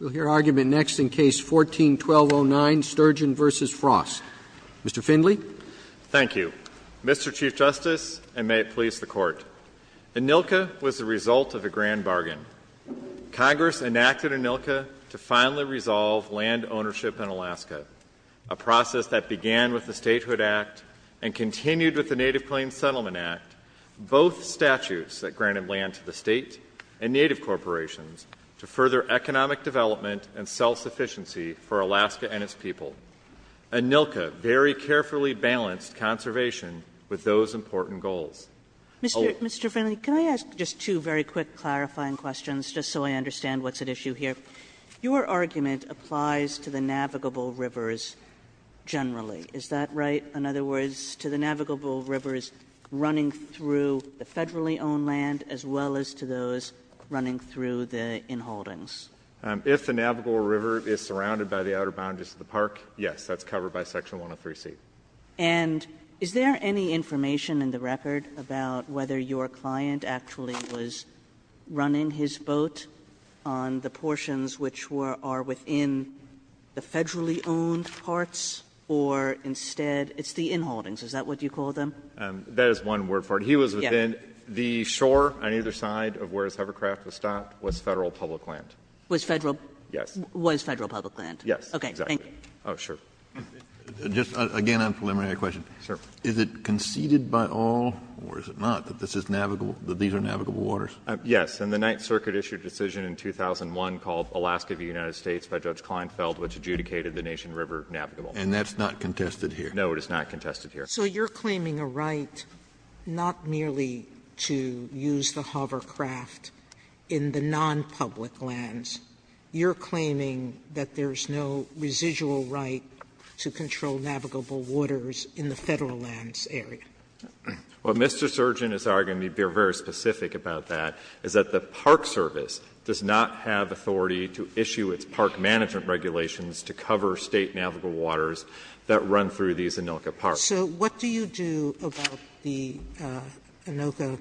We'll hear argument next in Case 14-1209, Sturgeon v. Frost. Mr. Findley. Thank you. Mr. Chief Justice, and may it please the court. ANILCA was the result of a grand bargain. Congress enacted ANILCA to finally resolve land ownership in Alaska, a process that began with the Statehood Act and continued with the Native Plains Settlement Act. Both statutes that granted land to the state and native corporations to further economic development and self-sufficiency for Alaska and its people, ANILCA very carefully balanced conservation with those important goals. Mr. Findley, can I ask just two very quick clarifying questions, just so I understand what's at issue here? Your argument applies to the navigable rivers generally, is that right? In other words, to the navigable rivers running through the federally owned land as well as to those running through the in-holdings. If the navigable river is surrounded by the outer boundaries of the park, yes, that's covered by Section 103C. And is there any information in the record about whether your client actually was running his boat on the portions which are within the federally owned parts? Or instead, it's the in-holdings, is that what you call them? That is one word for it. He was within the shore on either side of where his hovercraft was stopped was Federal public land. Was Federal? Yes. Was Federal public land? Yes. Okay. Thank you. Oh, sure. Just again on preliminary questions. Sir. Is it conceded by all or is it not that this is navigable, that these are navigable waters? Yes. And the Ninth Circuit issued a decision in 2001 called Alaska the United States by Judge Kleinfeld, which adjudicated the Nation River navigable. And that's not contested here? No, it is not contested here. So you're claiming a right not merely to use the hovercraft in the nonpublic lands. You're claiming that there's no residual right to control navigable waters in the Federal lands area. What Mr. Surgin is arguing, to be very specific about that, is that the Park Service does not have authority to issue its park management regulations to cover State navigable waters that run through these ANILCA parks. So what do you do about the ANILCA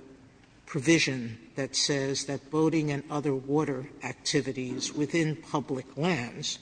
provision that says that boating and other water activities within public lands,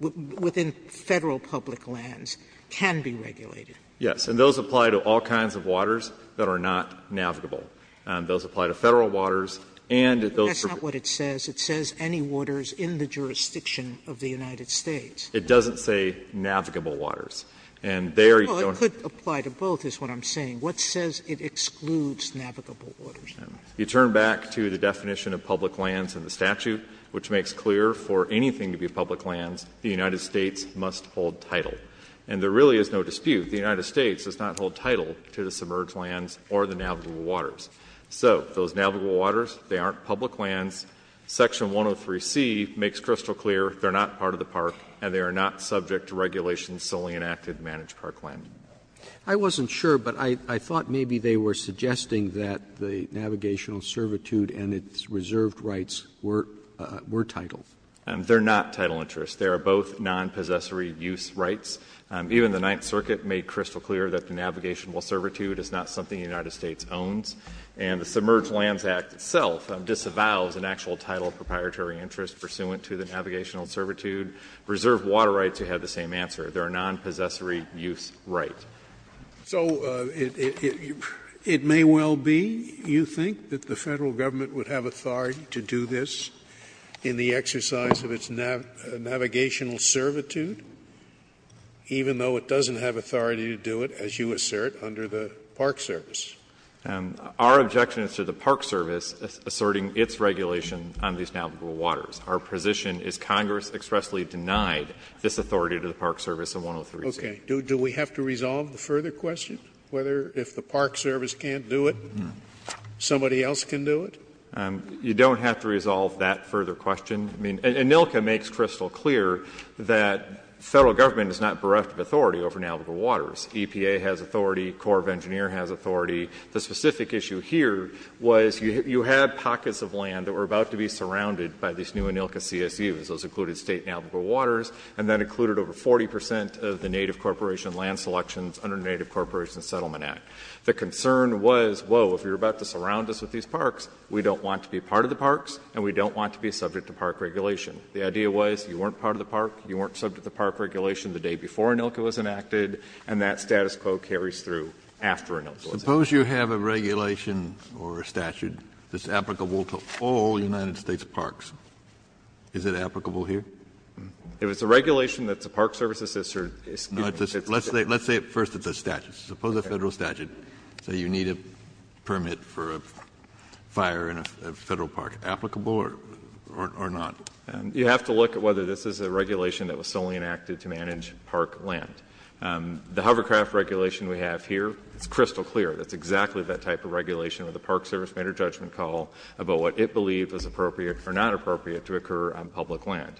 within Federal public lands, can be regulated? Yes. And those apply to all kinds of waters that are not navigable. Those apply to Federal waters and those permit That's not what it says. It says any waters in the jurisdiction of the United States. It doesn't say navigable waters. And there you don't Well, it could apply to both is what I'm saying. What says it excludes navigable waters? You turn back to the definition of public lands in the statute, which makes clear for anything to be public lands, the United States must hold title. And there really is no dispute. The United States does not hold title to the submerged lands or the navigable waters. So those navigable waters, they aren't public lands. Section 103C makes crystal clear they're not part of the park and they are not subject to regulations solely enacted to manage park land. I wasn't sure, but I thought maybe they were suggesting that the navigational servitude and its reserved rights were titled. They're not title interests. They are both non-possessory use rights. Even the Ninth Circuit made crystal clear that the navigable servitude is not something the United States owns. And the Submerged Lands Act itself disavows an actual title of proprietary interest pursuant to the navigational servitude, reserved water rights who have the same answer, they're a non-possessory use right. So it may well be, you think, that the Federal Government would have authority to do this in the exercise of its navigational servitude, even though it doesn't have authority to do it, as you assert, under the Park Service? Our objection is to the Park Service asserting its regulation on these navigable waters. Our position is Congress expressly denied this authority to the Park Service in 103C. Okay. Do we have to resolve the further question, whether if the Park Service can't do it, somebody else can do it? You don't have to resolve that further question. I mean, ANILCA makes crystal clear that Federal Government is not bereft of authority over navigable waters. EPA has authority. Corps of Engineers has authority. The specific issue here was you had pockets of land that were about to be surrounded by these new ANILCA CSUs. Those included state navigable waters, and that included over 40 percent of the Native Corporation land selections under the Native Corporation Settlement Act. The concern was, whoa, if you're about to surround us with these parks, we don't want to be part of the parks, and we don't want to be subject to park regulation. The idea was, you weren't part of the park, you weren't subject to park regulation the day before ANILCA was enacted, and that status quo carries through after ANILCA was enacted. Kennedy, suppose you have a regulation or a statute that's applicable to all United States parks. Is it applicable here? If it's a regulation that the Park Service assists or, excuse me, assists the State. Let's say first it's a statute. Suppose a Federal statute say you need a permit for a fire in a Federal park. Applicable or not? You have to look at whether this is a regulation that was solely enacted to manage park land. The hovercraft regulation we have here, it's crystal clear. That's exactly that type of regulation where the Park Service made a judgment call about what it believed was appropriate or not appropriate to occur on public land.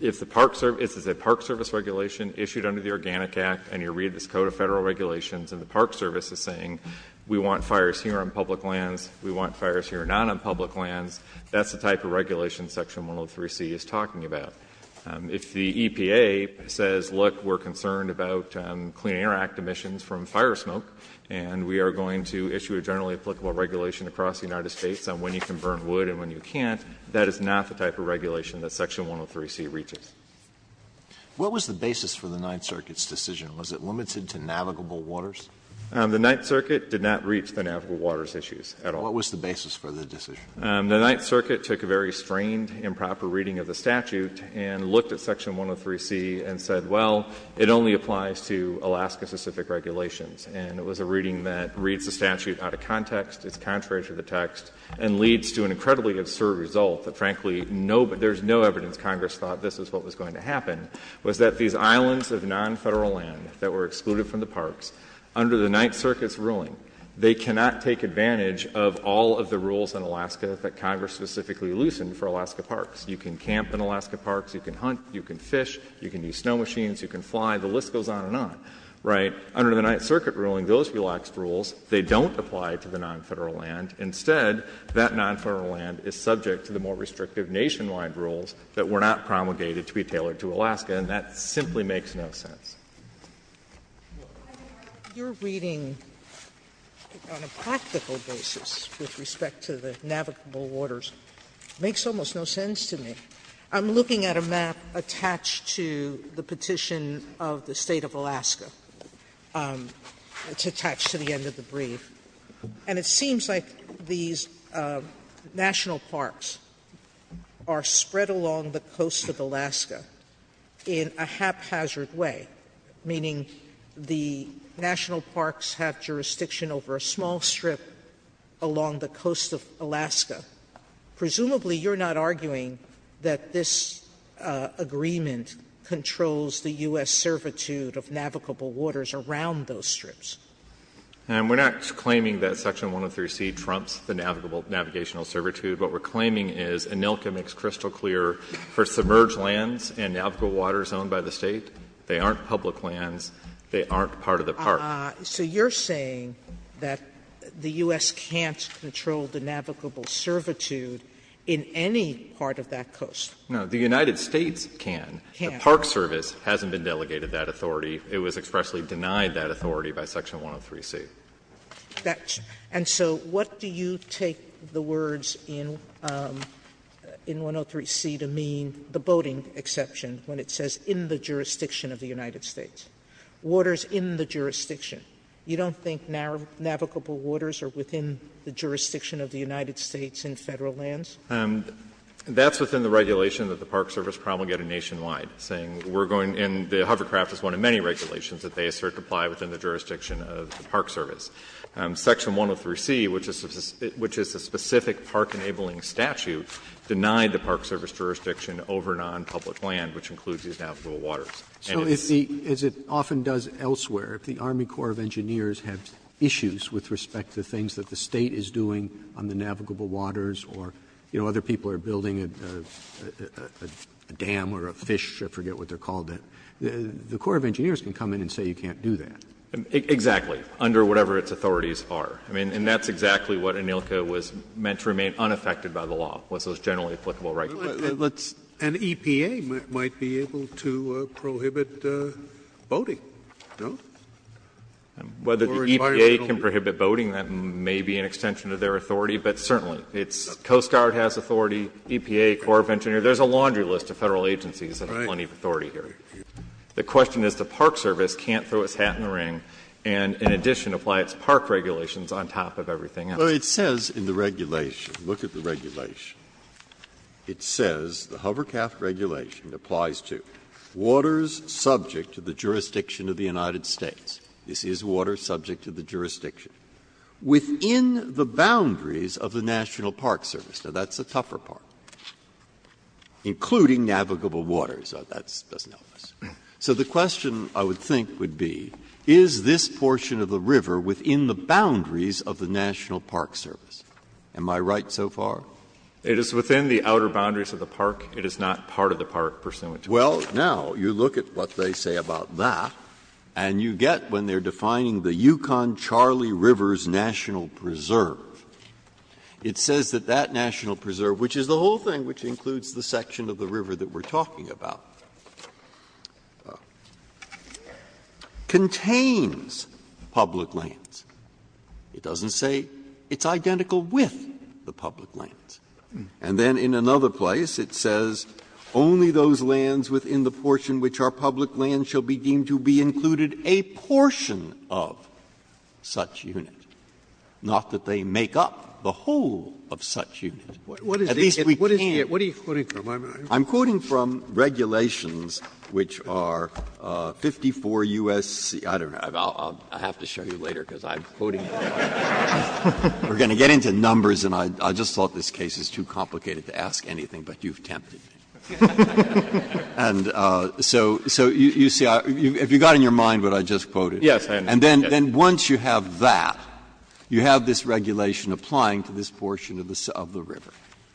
If the Park Service, this is a Park Service regulation issued under the Organic Act, and you read this code of Federal regulations, and the Park Service is saying we want fires here on public lands, we want fires here not on public lands. That's the type of regulation Section 103C is talking about. If the EPA says, look, we're concerned about Clean Air Act emissions from fire smoke, and we are going to issue a generally applicable regulation across the United States on when you can burn wood and when you can't, that is not the type of regulation that Section 103C reaches. Alito, what was the basis for the Ninth Circuit's decision? Was it limited to navigable waters? The Ninth Circuit did not reach the navigable waters issues at all. What was the basis for the decision? The Ninth Circuit took a very strained, improper reading of the statute and looked at Section 103C and said, well, it only applies to Alaska-specific regulations. And it was a reading that reads the statute out of context, it's contrary to the text, and leads to an incredibly absurd result that, frankly, there's no evidence Congress thought this is what was going to happen, was that these islands of non-Federal land that were excluded from the parks, under the Ninth Circuit's ruling, they cannot take advantage of all of the rules in Alaska that Congress specifically loosened for Alaska parks. You can camp in Alaska parks, you can hunt, you can fish, you can use snow machines, you can fly, the list goes on and on. Right? Under the Ninth Circuit ruling, those relaxed rules, they don't apply to the non-Federal land. Instead, that non-Federal land is subject to the more restrictive nationwide rules that were not promulgated to be tailored to Alaska, and that simply makes no sense. Your reading on a practical basis with respect to the navigable waters makes almost no sense to me. I'm looking at a map attached to the petition of the state of Alaska. It's attached to the end of the brief. And it seems like these national parks are spread along the coast of Alaska in a haphazard way, meaning the national parks have jurisdiction over a small strip along the coast of Alaska. Presumably, you're not arguing that this agreement controls the U.S. servitude of navigable waters around those strips. And we're not claiming that Section 103C trumps the navigable navigational servitude. What we're claiming is ANILCA makes crystal clear, for submerged lands and navigable waters owned by the State, they aren't public lands, they aren't part of the park. Sotomayor, so you're saying that the U.S. can't control the navigable servitude in any part of that coast? No, the United States can. The Park Service hasn't been delegated that authority. It was expressly denied that authority by Section 103C. Sotomayor, and so what do you take the words in 103C to mean, the boating exception when it says in the jurisdiction of the United States, waters in the jurisdiction? You don't think navigable waters are within the jurisdiction of the United States in Federal lands? That's within the regulation that the Park Service promulgated nationwide, saying we're going in the hover craft is one of many regulations that they assert to apply within the jurisdiction of the Park Service. Section 103C, which is a specific park-enabling statute, denied the Park Service jurisdiction over nonpublic land, which includes these navigable waters. And it's the other way around. Roberts, so as it often does elsewhere, if the Army Corps of Engineers have issues with respect to things that the State is doing on the navigable waters or, you know, other people are building a dam or a fish, I forget what they're called, the Corps of Engineers can come in and say you can't do that. Exactly, under whatever its authorities are. I mean, and that's exactly what ANILCA was meant to remain unaffected by the law, was those generally applicable rights. An EPA might be able to prohibit boating, no? Whether the EPA can prohibit boating, that may be an extension of their authority, but certainly. It's Coast Guard has authority, EPA, Corps of Engineers. There's a laundry list of Federal agencies that have plenty of authority here. The question is the Park Service can't throw its hat in the ring and, in addition, apply its park regulations on top of everything else. Breyer, it says in the regulation, look at the regulation, it says the Hovercraft Regulation applies to waters subject to the jurisdiction of the United States. This is water subject to the jurisdiction within the boundaries of the National Park Service. Now, that's a tougher part, including navigable waters. So that's an illness. So the question, I would think, would be, is this portion of the river within the boundaries of the National Park Service? Am I right so far? It is within the outer boundaries of the park. It is not part of the park pursuant to the law. Well, now, you look at what they say about that, and you get when they're defining the Yukon-Charlie River's National Preserve, it says that that National Preserve, which is the whole thing, which includes the section of the river that we're talking about, contains public lands. It doesn't say it's identical with the public lands. And then in another place it says, only those lands within the portion which are public lands shall be deemed to be included a portion of such unit, not that they make up the whole of such unit. At least we can't. Scalia I'm quoting from regulations which are 54 U.S.C. I don't know. I'll have to show you later, because I'm quoting. We're going to get into numbers, and I just thought this case is too complicated to ask anything, but you've tempted me. And so you see, if you got in your mind what I just quoted. Breyer Yes, I understand. Breyer And then once you have that, you have this regulation applying to this portion of the river.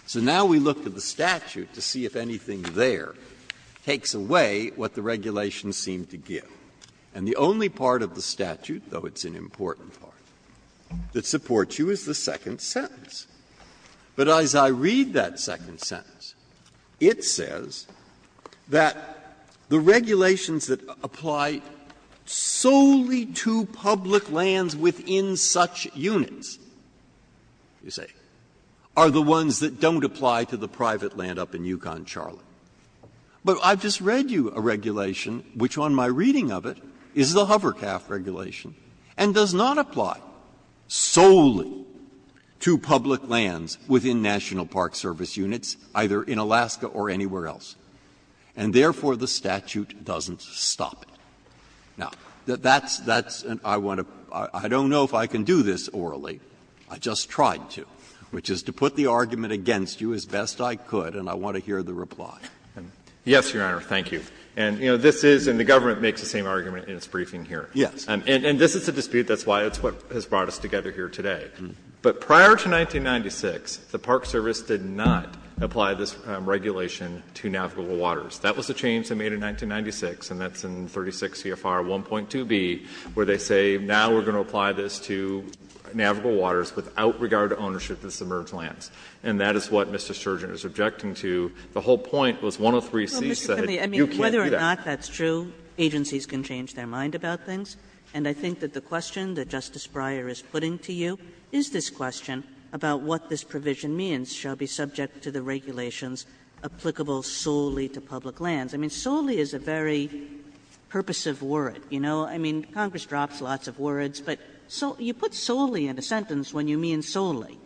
So now we look to the statute to see if anything there takes away what the regulations seem to give. And the only part of the statute, though it's an important part, that supports you is the second sentence. But as I read that second sentence, it says that the regulations that apply solely to public lands within such units, you see, are the ones that don't apply to the private land up in Yukon-Charlotte. But I've just read you a regulation, which on my reading of it is the Hovercaft Regulation, and does not apply solely to public lands within National Park Service units, either in Alaska or anywhere else. And therefore, the statute doesn't stop it. Now, that's an I want to — I don't know if I can do this orally. I just tried to, which is to put the argument against you as best I could, and I want to hear the reply. And yes, Your Honor, thank you. And, you know, this is — and the government makes the same argument in its briefing here. Breyer Yes. And this is a dispute. That's why it's what has brought us together here today. But prior to 1996, the Park Service did not apply this regulation to navigable waters. That was a change they made in 1996, and that's in 36 CFR 1.2b, where they say now we're going to apply this to navigable waters without regard to ownership of the submerged lands. And that is what Mr. Sturgeon is objecting to. The whole point was 103C said you can't do that. Kagan Well, Mr. Cunlea, I mean, whether or not that's true, agencies can change their mind about things, and I think that the question that Justice Breyer is putting to you is this question about what this provision means shall be subject to the regulations applicable solely to public lands. I mean, solely is a very purposive word, you know. I mean, Congress drops lots of words, but you put solely in a sentence when you mean solely,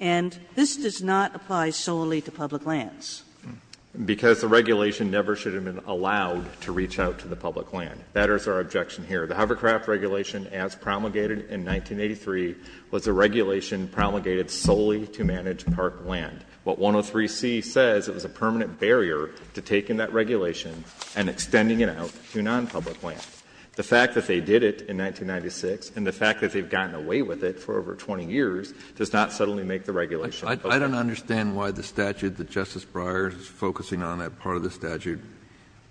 and this does not apply solely to public lands. Cunlea Because the regulation never should have been allowed to reach out to the public land. That is our objection here. The Hovercraft Regulation, as promulgated in 1983, was a regulation promulgated solely to manage park land. What 103C says, it was a permanent barrier to taking that regulation and extending it out to non-public land. The fact that they did it in 1996, and the fact that they've gotten away with it for over 20 years, does not suddenly make the regulation applicable. Kennedy I don't understand why the statute that Justice Breyer is focusing on, that part of the statute,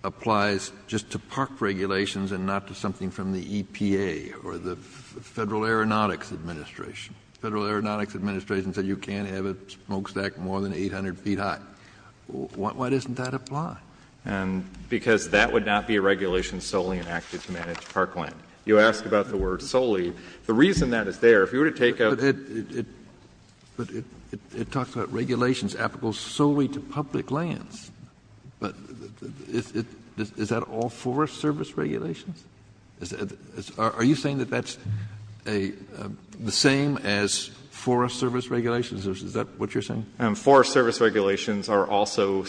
applies just to park regulations and not to something from the EPA or the Federal Aeronautics Administration. Federal Aeronautics Administration said you can't have a smokestack more than 800 feet high. Why doesn't that apply? Cunlea Because that would not be a regulation solely enacted to manage park land. You ask about the word solely. The reason that is there, if you were to take a Kennedy But it talks about regulations applicable solely to public lands. But is that all Forest Service regulations? Are you saying that that's the same as Forest Service regulations? Is that what you're saying? Cunlea Forest Service regulations are also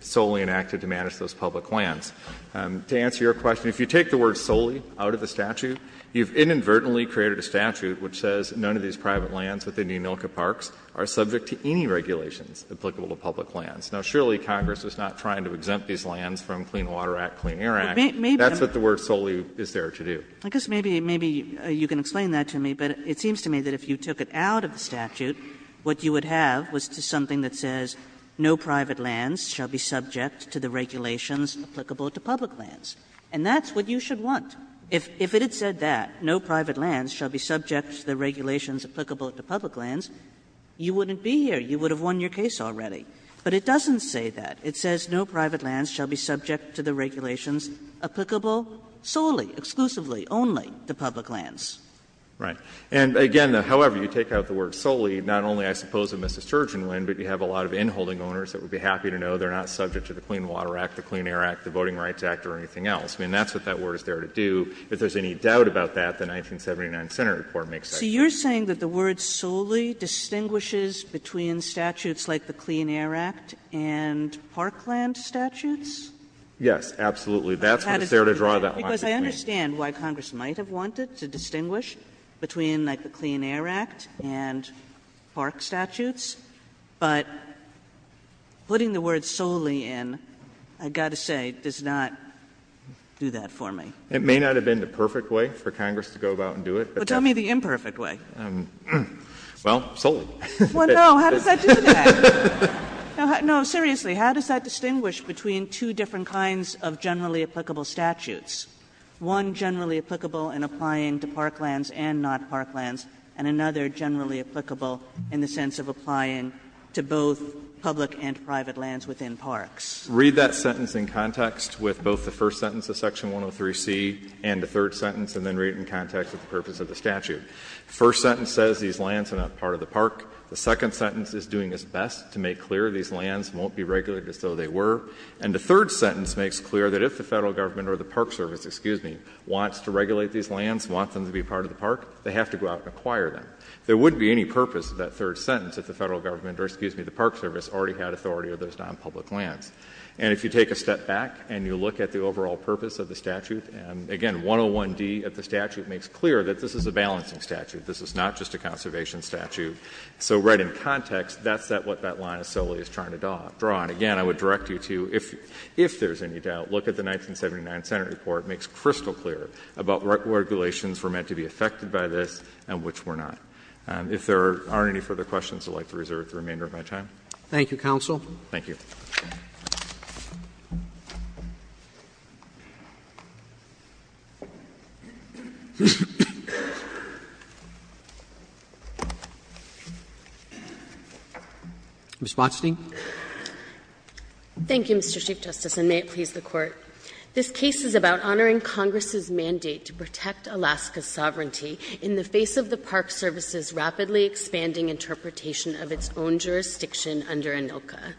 solely enacted to manage those public lands. To answer your question, if you take the word solely out of the statute, you've inadvertently created a statute which says none of these private lands within the Emilka Parks are subject to any regulations applicable to public lands. Now, surely Congress is not trying to exempt these lands from Clean Water Act, Clean Air Act. Kennedy Maybe. That's what the word solely is there to do. Kagan I guess maybe you can explain that to me, but it seems to me that if you took it out of the statute, what you would have was something that says no private lands shall be subject to the regulations applicable to public lands. And that's what you should want. If it had said that, no private lands shall be subject to the regulations applicable to public lands, you wouldn't be here. You would have won your case already. But it doesn't say that. It says no private lands shall be subject to the regulations applicable solely, exclusively, only to public lands. Kagan Right. And again, however, you take out the word solely, not only, I suppose, would Mrs. Turgeon win, but you have a lot of inholding owners that would be happy to know they're not subject to the Clean Water Act, the Clean Air Act, the Voting Rights Act, or anything else. I mean, that's what that word is there to do. If there's any doubt about that, the 1979 Senate report makes sense. Kagan So you're saying that the word solely distinguishes between statutes like the Clean Air Act and parkland statutes? Fisher Yes, absolutely. That's what's there to draw that line between. Kagan Because I understand why Congress might have wanted to distinguish between, like, the Clean Air Act and park statutes. But putting the word solely in, I've got to say, does not do that for me. Fisher It may not have been the perfect way for Congress to go about and do it. Kagan Well, tell me the imperfect way. Fisher Well, solely. Kagan Well, no. How does that do that? No, seriously, how does that distinguish between two different kinds of generally applicable statutes, one generally applicable in applying to parklands and not parklands, and another generally applicable in the sense of applying to both public and private lands within parks? Fisher Read that sentence in context with both the first sentence of section 103C and the third sentence, and then read it in context with the purpose of the statute. The first sentence says these lands are not part of the park. The second sentence is doing its best to make clear these lands won't be regulated as though they were. And the third sentence makes clear that if the Federal Government or the Park Service, excuse me, wants to regulate these lands, wants them to be part of the park, they have to go out and acquire them. There wouldn't be any purpose of that third sentence if the Federal Government or, excuse me, the Park Service already had authority over those non-public lands. And if you take a step back and you look at the overall purpose of the statute, and again, 101D of the statute makes clear that this is a balancing statute. This is not just a conservation statute. So right in context, that's what that line is solely trying to draw. And again, I would direct you to, if there's any doubt, look at the 1979 Senate report, makes crystal clear about what regulations were meant to be affected by this and which were not. If there aren't any further questions, I'd like to reserve the remainder of my time. Thank you, Counsel. Thank you. Ms. Botstein. Thank you, Mr. Chief Justice, and may it please the Court. This case is about honoring Congress' mandate to protect Alaska's sovereignty in the face of the Park Service's rapidly expanding interpretation of its own jurisdiction under ANILCA.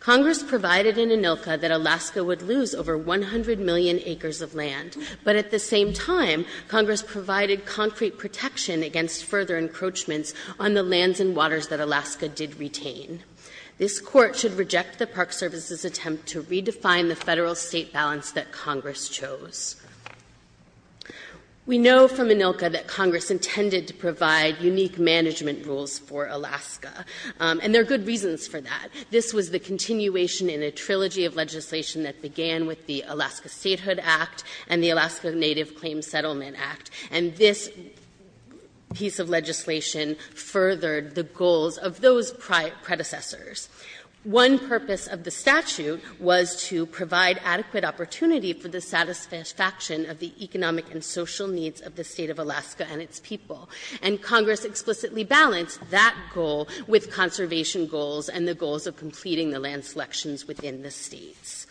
Congress provided in ANILCA that Alaska would lose over 100 million acres of land, but at the same time, Congress provided concrete protection against further encroachments on the lands and waters that Alaska did retain. This Court should reject the Park Service's attempt to redefine the Federal-State balance that Congress chose. We know from ANILCA that Congress intended to provide unique management rules for Alaska, and there are good reasons for that. This was the continuation in a trilogy of legislation that began with the Alaska Statehood Act and the Alaska Native Claims Settlement Act, and this piece of legislation furthered the goals of those predecessors. One purpose of the statute was to provide adequate opportunity for the satisfaction of the economic and social needs of the State of Alaska and its people, and Congress explicitly balanced that goal with conservation goals and the goals of completing the land selections within the States.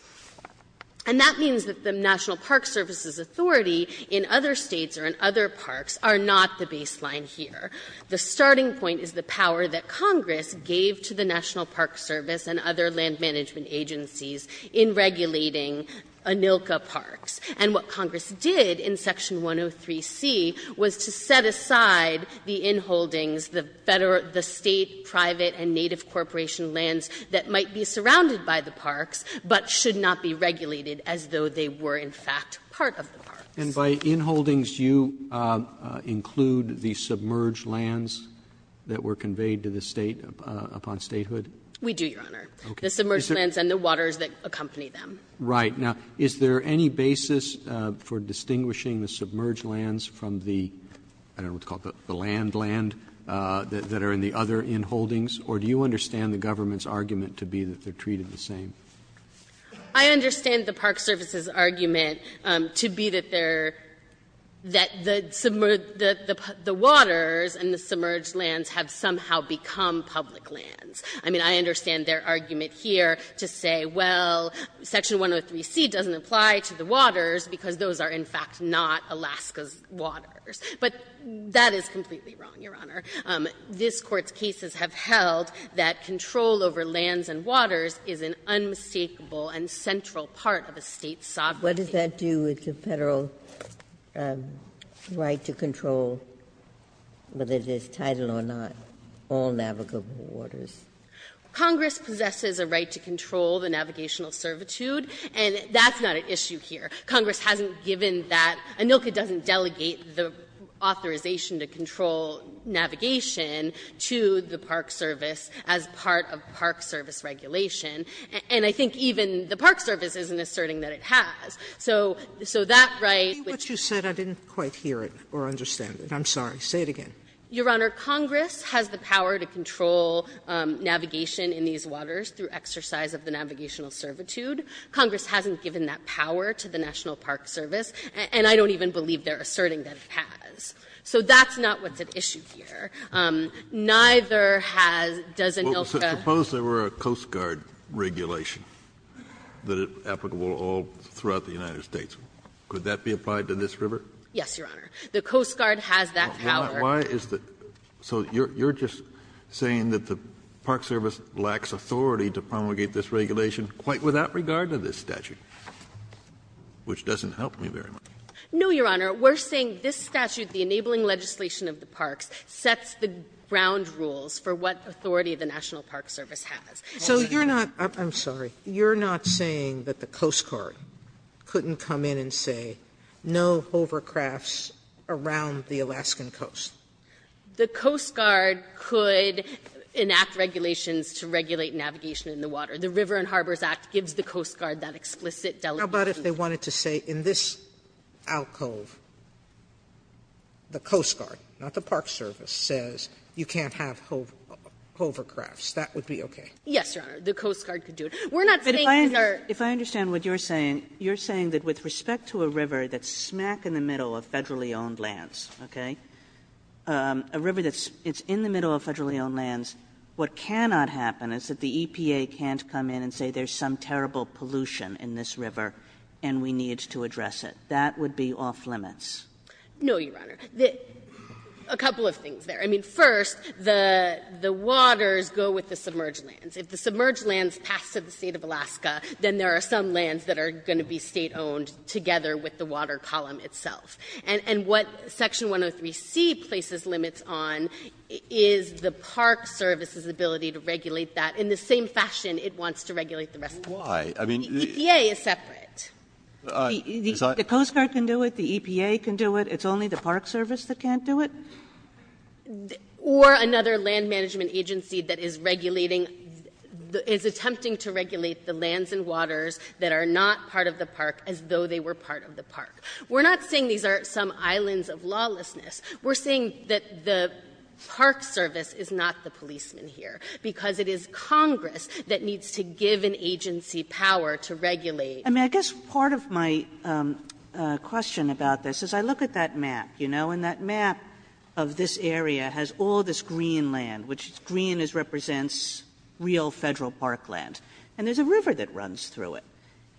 And that means that the National Park Service's authority in other States or in other parks are not the baseline here. The starting point is the power that Congress gave to the National Park Service and other land management agencies in regulating ANILCA parks. And what Congress did in Section 103C was to set aside the inholdings, the State, private, and native corporation lands that might be surrounded by the parks but should not be regulated as though they were in fact part of the parks. Roberts. And by inholdings, you include the submerged lands that were conveyed to the State upon statehood? We do, Your Honor. Okay. The submerged lands and the waters that accompany them. Right. Now, is there any basis for distinguishing the submerged lands from the, I don't understand the government's argument to be that they're treated the same? I understand the Park Service's argument to be that they're, that the submerged the waters and the submerged lands have somehow become public lands. I mean, I understand their argument here to say, well, Section 103C doesn't apply to the waters because those are in fact not Alaska's waters. But that is completely wrong, Your Honor. This Court's cases have held that control over lands and waters is an unmistakable and central part of a State sovereignty. What does that do with the Federal right to control, whether it is title or not, all navigable waters? Congress possesses a right to control the navigational servitude, and that's not an issue here. Congress hasn't given that. ANILCA doesn't delegate the authorization to control navigation to the Park Service as part of Park Service regulation, and I think even the Park Service isn't asserting that it has. So that right, which you said I didn't quite hear it or understand it. I'm sorry. Say it again. Your Honor, Congress has the power to control navigation in these waters through exercise of the navigational servitude. Congress hasn't given that power to the National Park Service. And I don't even believe they're asserting that it has. So that's not what's at issue here. Neither has does ANILCA. Kennedy, suppose there were a Coast Guard regulation that is applicable all throughout the United States. Could that be applied to this river? Yes, Your Honor. The Coast Guard has that power. Why is the so you're just saying that the Park Service lacks authority to promulgate this regulation quite without regard to this statute, which doesn't help me very much. No, Your Honor. We're saying this statute, the enabling legislation of the parks, sets the ground rules for what authority the National Park Service has. So you're not you're not saying that the Coast Guard couldn't come in and say no hovercrafts around the Alaskan coast. The Coast Guard could enact regulations to regulate navigation in the water. The River and Harbors Act gives the Coast Guard that explicit delegation. How about if they wanted to say in this alcove, the Coast Guard, not the Park Service, says you can't have hovercrafts? That would be okay. Yes, Your Honor. The Coast Guard could do it. We're not saying these are. But if I understand what you're saying, you're saying that with respect to a river that's smack in the middle of Federally owned lands, okay, a river that's in the middle of Federally owned lands, what cannot happen is that the EPA can't come in and say there's some terrible pollution in this river and we need to address it. That would be off-limits. No, Your Honor. A couple of things there. I mean, first, the waters go with the submerged lands. If the submerged lands pass to the State of Alaska, then there are some lands that are going to be State-owned together with the water column itself. And what Section 103c places limits on is the Park Service's ability to regulate that in the same fashion it wants to regulate the rest of the country. Why? I mean, the EPA is separate. The Coast Guard can do it. The EPA can do it. It's only the Park Service that can't do it? Or another land management agency that is regulating, is attempting to regulate the lands and waters that are not part of the park as though they were part of the park. We're not saying these are some islands of lawlessness. We're saying that the Park Service is not the policeman here, because it is Congress that needs to give an agency power to regulate. Kagan. I mean, I guess part of my question about this is I look at that map, you know, and that map of this area has all this green land, which green represents real Federal park land. And there's a river that runs through it.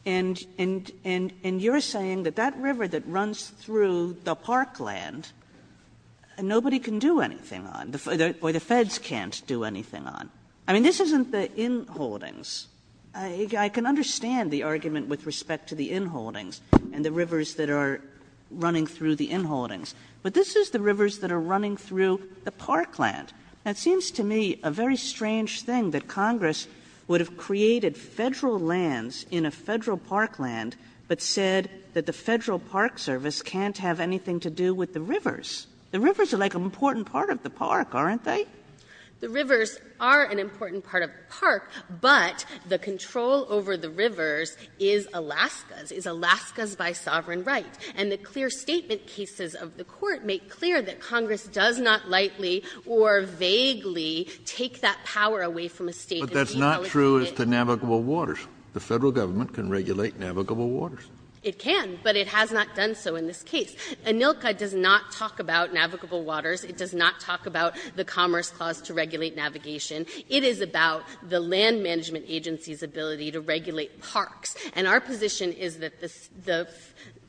And you're saying that that river that runs through the park land, nobody can do anything on, or the Feds can't do anything on. I mean, this isn't the inholdings. I can understand the argument with respect to the inholdings and the rivers that are running through the inholdings. But this is the rivers that are running through the park land. And it seems to me a very strange thing that Congress would have created Federal lands in a Federal park land, but said that the Federal Park Service can't have anything to do with the rivers. The rivers are like an important part of the park, aren't they? The rivers are an important part of the park, but the control over the rivers is Alaska's, is Alaska's by sovereign right. And the clear statement cases of the Court make clear that Congress does not lightly or vaguely take that power away from a State that's being solicited. But that's not true as to navigable waters. The Federal government can regulate navigable waters. It can, but it has not done so in this case. ANILCA does not talk about navigable waters. It does not talk about the Commerce Clause to regulate navigation. It is about the land management agency's ability to regulate parks. And our position is that the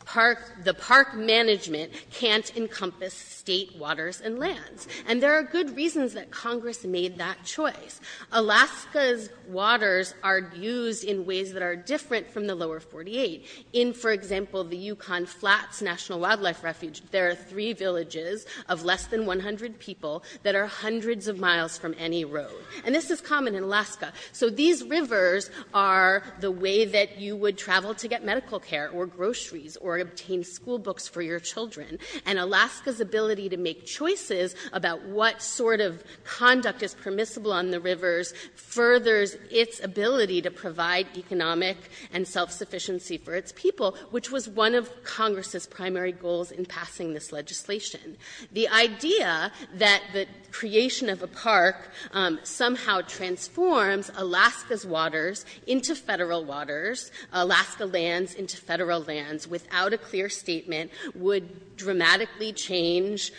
park management can't encompass State waters and lands. And there are good reasons that Congress made that choice. Alaska's waters are used in ways that are different from the lower 48. In, for example, the Yukon Flats National Wildlife Refuge, there are three villages of less than 100 people that are hundreds of miles from any road. And this is common in Alaska. So these rivers are the way that you would travel to get medical care, or groceries, or obtain school books for your children. And Alaska's ability to make choices about what sort of conduct is permissible on the rivers furthers its ability to provide economic and self-sufficiency for its people, which was one of Congress's primary goals in passing this legislation. The idea that the creation of a park somehow transforms Alaska's waters into Federal waters, Alaska lands into Federal lands, without a clear statement, would dramatically change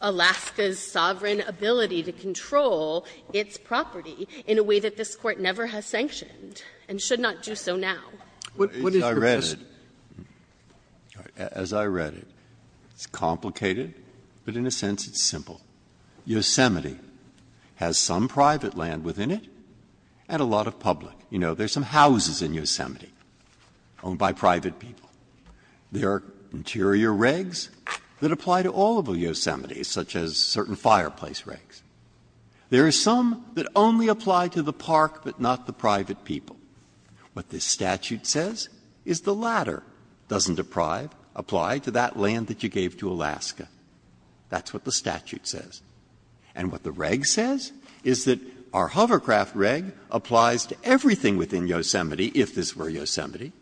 Alaska's sovereign ability to control its property in a way that this Court never has sanctioned and should not do so now. Breyer, as I read it, it's complicated, but in a sense it's simple. Yosemite has some private land within it and a lot of public. You know, there's some houses in Yosemite owned by private people. There are interior regs that apply to all of Yosemite, such as certain fireplace regs. There are some that only apply to the park, but not the private people. What this statute says is the latter doesn't apply to that land that you gave to Alaska. That's what the statute says. And what the reg says is that our hovercraft reg applies to everything within Yosemite, if this were Yosemite.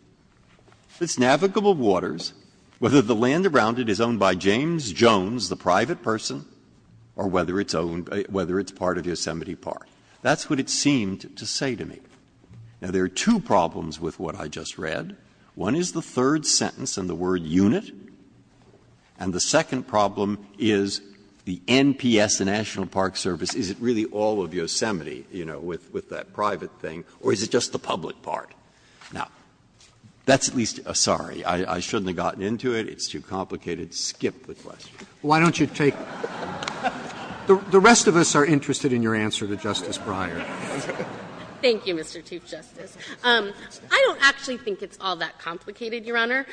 It's navigable waters, whether the land around it is owned by James Jones, the private person, or whether it's part of Yosemite Park. That's what it seemed to say to me. Now, there are two problems with what I just read. One is the third sentence and the word unit, and the second problem is the NPS, the National Park Service, is it really all of Yosemite, you know, with that private thing, or is it just the public part? Now, that's at least a sorry. I shouldn't have gotten into it. It's too complicated. Skip the question. Breyer, why don't you take the rest of us are interested in your answer to Justice Breyer. Thank you, Mr. Chief Justice. I don't actually think it's all that complicated, Your Honor.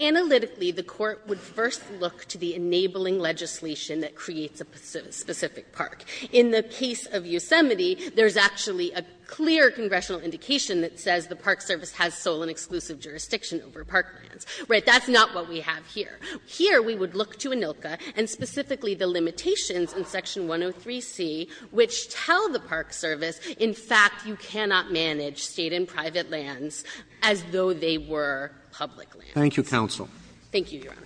Analytically, the Court would first look to the enabling legislation that creates a specific park. In the case of Yosemite, there's actually a clear congressional indication that says the Park Service has sole and exclusive jurisdiction over park lands. Right? That's not what we have here. Here, we would look to ANILCA and specifically the limitations in Section 103C which tell the Park Service, in fact, you cannot manage State and private lands as though they were public lands. Thank you, counsel. Thank you, Your Honor.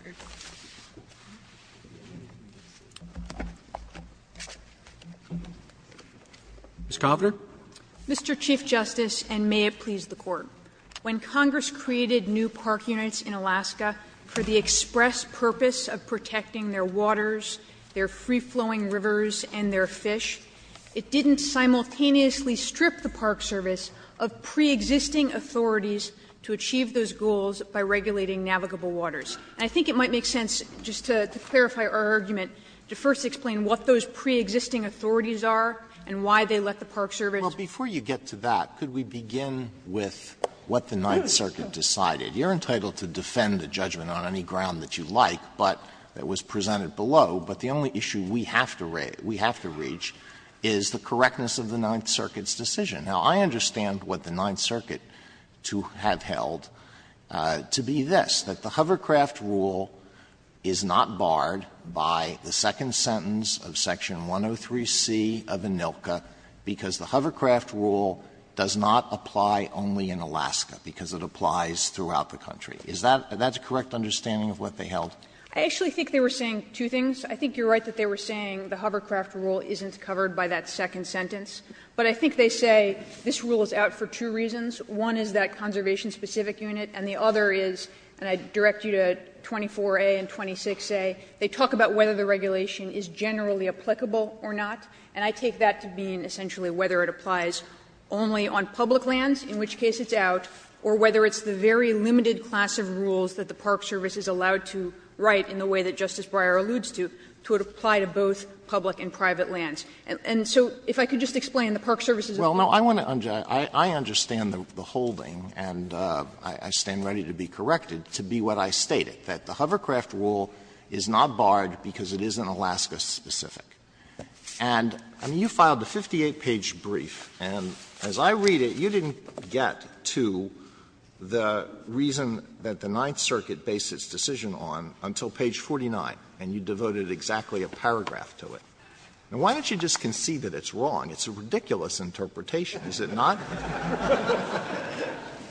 Ms. Kovner. Mr. Chief Justice, and may it please the Court, when Congress created new park units in Alaska for the express purpose of protecting their waters, their free-flowing rivers, and their fish, it didn't simultaneously strip the Park Service of preexisting authorities to achieve those goals by regulating navigable waters. And I think it might make sense, just to clarify our argument, to first explain what those preexisting authorities are and why they let the Park Service. Alito, before you get to that, could we begin with what the Ninth Circuit decided? You're entitled to defend a judgment on any ground that you like, but it was presented below, but the only issue we have to reach is the correctness of the Ninth Circuit's decision. Now, I understand what the Ninth Circuit to have held to be this, that the hovercraft rule is not barred by the second sentence of section 103C of ANILCA because the hovercraft rule does not apply only in Alaska, because it applies throughout the country. Is that a correct understanding of what they held? I actually think they were saying two things. I think you're right that they were saying the hovercraft rule isn't covered by that second sentence. But I think they say this rule is out for two reasons. One is that conservation-specific unit, and the other is, and I direct you to the 24a and 26a, they talk about whether the regulation is generally applicable or not, and I take that to mean essentially whether it applies only on public lands, in which case it's out, or whether it's the very limited class of rules that the Park Service is allowed to write in the way that Justice Breyer alludes to, to apply to both public and private lands. And so if I could just explain the Park Service's opinion. Alito, I understand the holding, and I stand ready to be corrected, to be what I stated. That the hovercraft rule is not barred because it isn't Alaska-specific. And, I mean, you filed a 58-page brief, and as I read it, you didn't get to the reason that the Ninth Circuit based its decision on until page 49, and you devoted exactly a paragraph to it. Now, why don't you just concede that it's wrong? It's a ridiculous interpretation, is it not?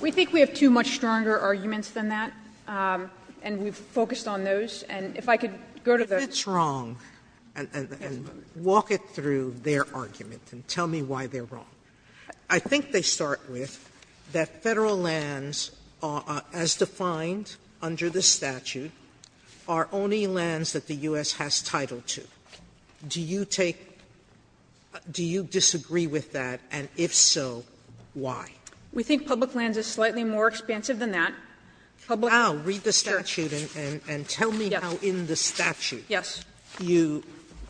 We think we have two much stronger arguments than that, and we've focused on those. And if I could go to the other side. Sotomayor, if it's wrong, and walk it through their argument and tell me why they're wrong, I think they start with that Federal lands are, as defined under the statute, are only lands that the U.S. has title to. Do you take do you disagree with that? And if so, why? We think public lands is slightly more expansive than that. Sotomayor, read the statute and tell me how in the statute you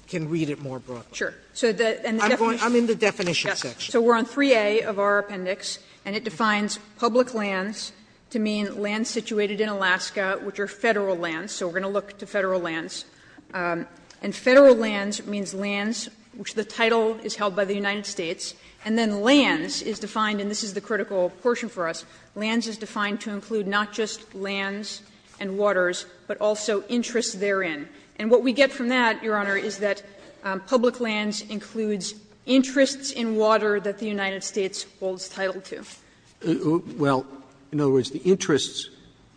can read it more broadly. Sure. I'm in the definition section. So we're on 3A of our appendix, and it defines public lands to mean lands situated in Alaska, which are Federal lands, so we're going to look to Federal lands. And Federal lands means lands which the title is held by the United States, and then lands is defined, and this is the critical portion for us, lands is defined to include not just lands and waters, but also interests therein. And what we get from that, Your Honor, is that public lands includes interests in water that the United States holds title to. Well, in other words, the interests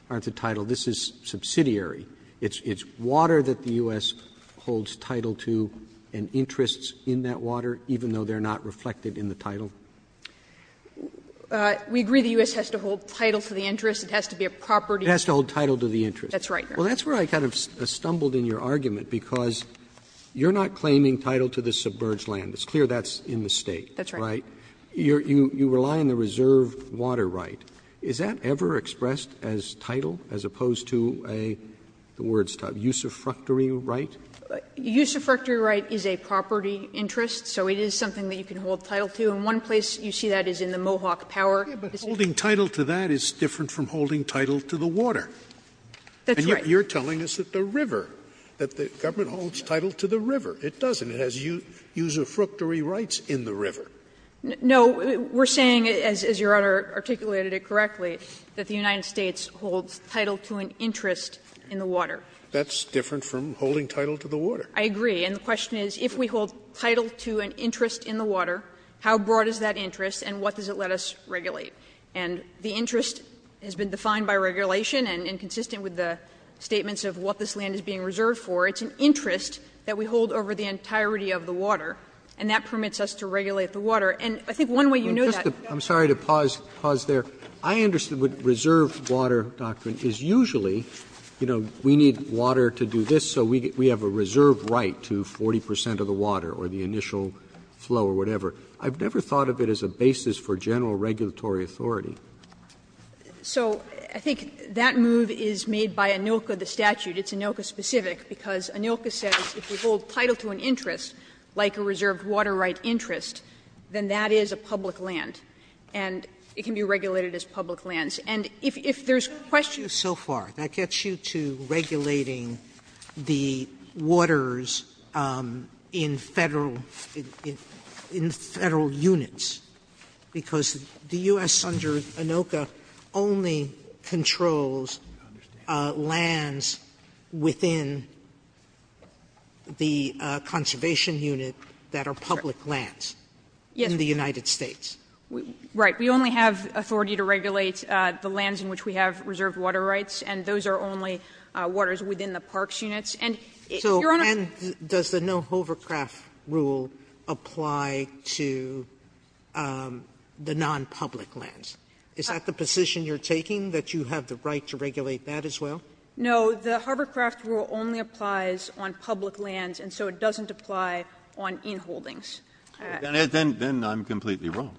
aren't the title. This is subsidiary. It's water that the U.S. holds title to and interests in that water, even though they're not reflected in the title. We agree the U.S. has to hold title to the interest. It has to be a property. It has to hold title to the interest. That's right, Your Honor. Well, that's where I kind of stumbled in your argument, because you're not claiming title to the submerged land. It's clear that's in the State. That's right. Right? You rely on the reserve water right. Is that ever expressed as title as opposed to a, the word's tough, usufructory right? Usufructory right is a property interest, so it is something that you can hold title to. And one place you see that is in the Mohawk Power. Yeah, but holding title to that is different from holding title to the water. That's right. And yet you're telling us that the river, that the government holds title to the river. It doesn't. It has usufructory rights in the river. No, we're saying, as Your Honor articulated it correctly, that the United States holds title to an interest in the water. That's different from holding title to the water. I agree. And the question is, if we hold title to an interest in the water, how broad is that interest and what does it let us regulate? And the interest has been defined by regulation and consistent with the statements of what this land is being reserved for. It's an interest that we hold over the entirety of the water, and that permits us to regulate the water. And I think one way you knew that. I'm sorry to pause there. I understood what reserved water doctrine is. Usually, you know, we need water to do this, so we have a reserved right to 40 percent of the water or the initial flow or whatever. I've never thought of it as a basis for general regulatory authority. So I think that move is made by ANILCA, the statute. It's ANILCA-specific, because ANILCA says if you hold title to an interest, like a reserved water right interest, then that is a public land, and it can be regulated as public lands. And if there's questions so far, that gets you to regulating the waters in Federal units, because the U.S. under ANILCA only controls lands within the conservation unit that are public lands in the United States. Right. We only have authority to regulate the lands in which we have reserved water rights, and those are only waters within the parks units. And, Your Honor — So, and does the no-hovercraft rule apply to the nonpublic lands? Is that the position you're taking, that you have the right to regulate that as well? No. The hovercraft rule only applies on public lands, and so it doesn't apply on inholdings. Then I'm completely wrong.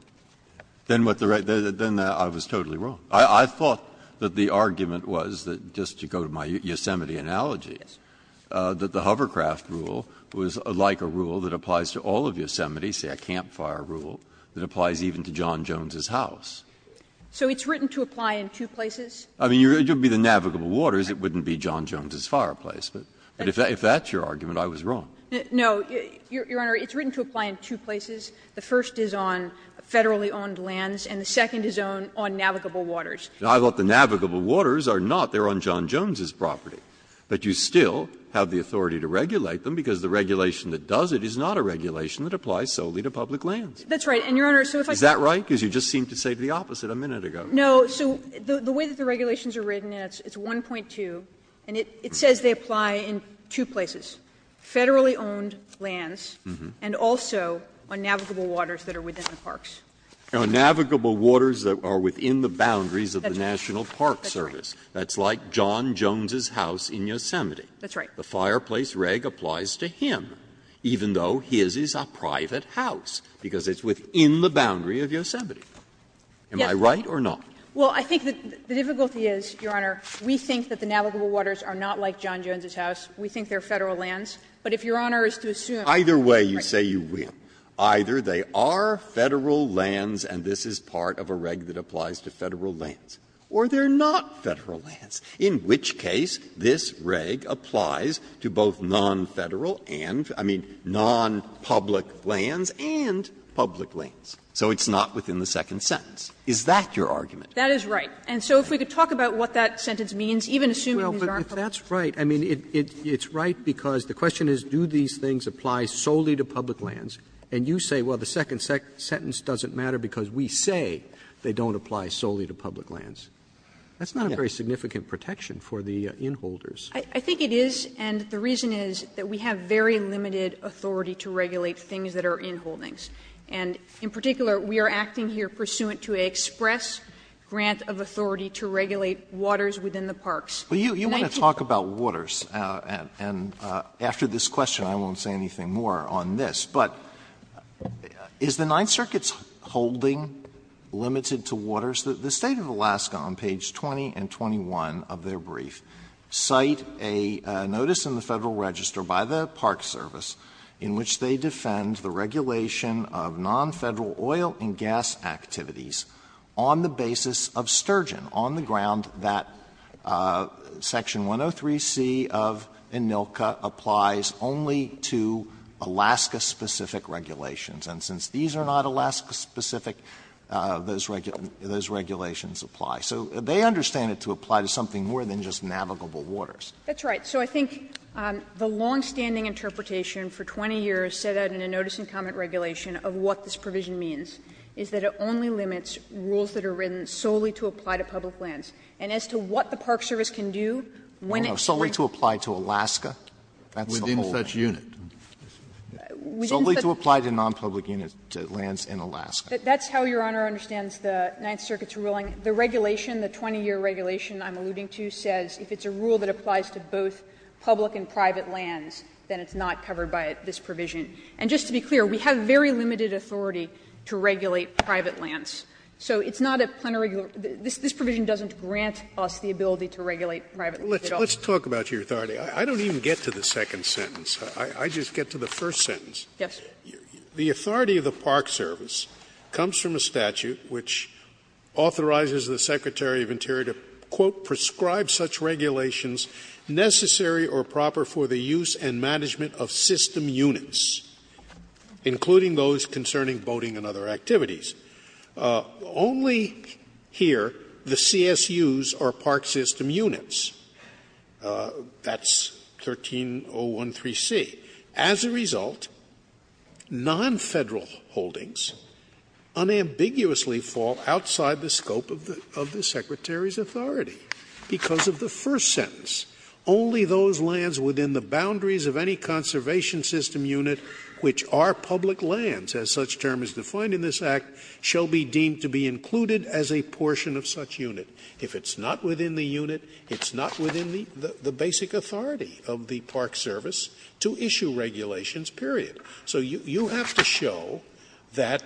Then what the right — then I was totally wrong. I thought that the argument was that, just to go to my Yosemite analogy, that the hovercraft rule was like a rule that applies to all of Yosemite, say a campfire rule, that applies even to John Jones' house. So it's written to apply in two places? I mean, it would be the navigable waters. It wouldn't be John Jones' fireplace. But if that's your argument, I was wrong. No. Your Honor, it's written to apply in two places. The first is on Federally-owned lands, and the second is on navigable waters. I thought the navigable waters are not. They're on John Jones' property. But you still have the authority to regulate them, because the regulation that does it is not a regulation that applies solely to public lands. That's right. And, Your Honor, so if I could — Is that right? Because you just seemed to say the opposite a minute ago. No. So the way that the regulations are written, it's 1.2, and it says they apply in two places, Federally-owned lands and also on navigable waters that are within the parks. On navigable waters that are within the boundaries of the National Park Service. That's like John Jones' house in Yosemite. That's right. The fireplace reg applies to him, even though his is a private house, because it's within the boundary of Yosemite. Am I right or not? Well, I think the difficulty is, Your Honor, we think that the navigable waters are not like John Jones' house. We think they're Federal lands. But if Your Honor is to assume— Either way, you say you will. Either they are Federal lands and this is part of a reg that applies to Federal lands, or they're not Federal lands, in which case this reg applies to both non-Federal and — I mean, non-public lands and public lands. So it's not within the second sentence. Is that your argument? That is right. And so if we could talk about what that sentence means, even assuming these aren't public lands. Well, but if that's right, I mean, it's right because the question is, do these things apply solely to public lands? And you say, well, the second sentence doesn't matter because we say they don't apply solely to public lands. That's not a very significant protection for the inholders. I think it is, and the reason is that we have very limited authority to regulate things that are inholdings. And in particular, we are acting here pursuant to an express grant of authority to regulate waters within the parks. Alito, you want to talk about waters, and after this question I won't say anything more on this. But is the Ninth Circuit's holding limited to waters? The State of Alaska on page 20 and 21 of their brief cite a notice in the Federal Register by the Park Service in which they defend the regulation of non-Federal oil and gas activities on the basis of sturgeon on the ground that section 103C of ANILCA applies only to Alaska-specific regulations. And since these are not Alaska-specific, those regulations apply. So they understand it to apply to something more than just navigable waters. That's right. So I think the longstanding interpretation for 20 years set out in a notice and comment regulation of what this provision means is that it only limits rules that are written solely to apply to public lands. And as to what the Park Service can do when it can't. Alito, solely to apply to Alaska? That's the whole point. Scalia, within such unit. Alito, solely to apply to non-public unit lands in Alaska. That's how Your Honor understands the Ninth Circuit's ruling. The regulation, the 20-year regulation I'm alluding to, says if it's a rule that only applies to both public and private lands, then it's not covered by this provision. And just to be clear, we have very limited authority to regulate private lands. So it's not a plenary rule. This provision doesn't grant us the ability to regulate private lands at all. Scalia, let's talk about your authority. I don't even get to the second sentence. I just get to the first sentence. Yes. The authority of the Park Service comes from a statute which authorizes the Secretary of the Interior to, quote, ''prescribe such regulations necessary or proper for the use and management of system units, including those concerning boating and other activities. '' Only here, the CSUs are park system units. That's 13013C. As a result, non-Federal holdings unambiguously fall outside the scope of the Secretary authority because of the first sentence. ''Only those lands within the boundaries of any conservation system unit which are public lands, as such term is defined in this Act, shall be deemed to be included as a portion of such unit. '' If it's not within the unit, it's not within the basic authority of the Park Service to issue regulations, period. So you have to show that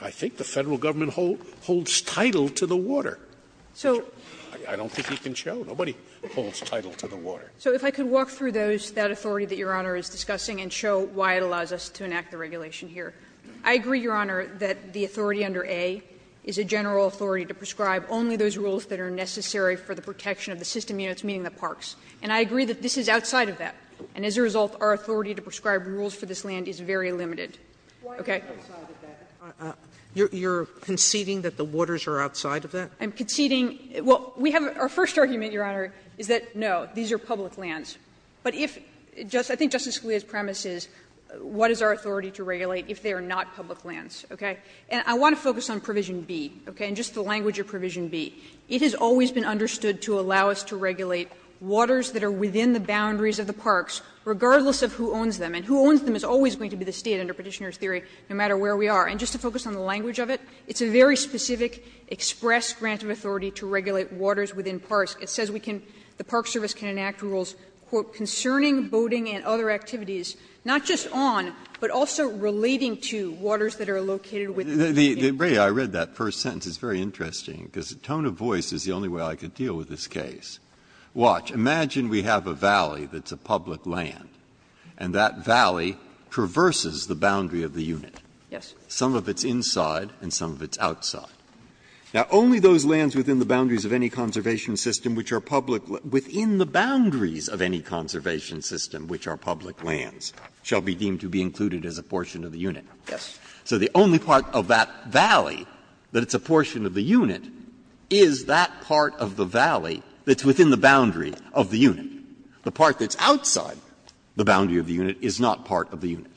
I think the Federal Government holds title to the water. So if I could walk through those, that authority that Your Honor is discussing and show why it allows us to enact the regulation here. I agree, Your Honor, that the authority under A is a general authority to prescribe only those rules that are necessary for the protection of the system units, meaning the parks. And I agree that this is outside of that. And as a result, our authority to prescribe rules for this land is very limited. Okay? Sotomayor, you're conceding that the waters are outside of that? I'm conceding we have our first argument, Your Honor, is that, no, these are public lands. But if, I think Justice Scalia's premise is, what is our authority to regulate if they are not public lands, okay? And I want to focus on Provision B, okay, and just the language of Provision B. It has always been understood to allow us to regulate waters that are within the boundaries of the parks, regardless of who owns them. And who owns them is always going to be the State, under Petitioner's theory, no matter where we are. And just to focus on the language of it, it's a very specific express grant of authority to regulate waters within parks. It says we can, the Park Service can enact rules, quote, concerning boating and other activities, not just on, but also relating to waters that are located within the park. Breyer, I read that first sentence. It's very interesting, because the tone of voice is the only way I could deal with this case. Watch. Imagine we have a valley that's a public land, and that valley traverses the boundary of the unit. Yes. Some of it's inside and some of it's outside. Now, only those lands within the boundaries of any conservation system which are public lands, within the boundaries of any conservation system which are public lands, shall be deemed to be included as a portion of the unit. Yes. So the only part of that valley that it's a portion of the unit is that part of the valley that's within the boundary of the unit. The part that's outside the boundary of the unit is not part of the unit.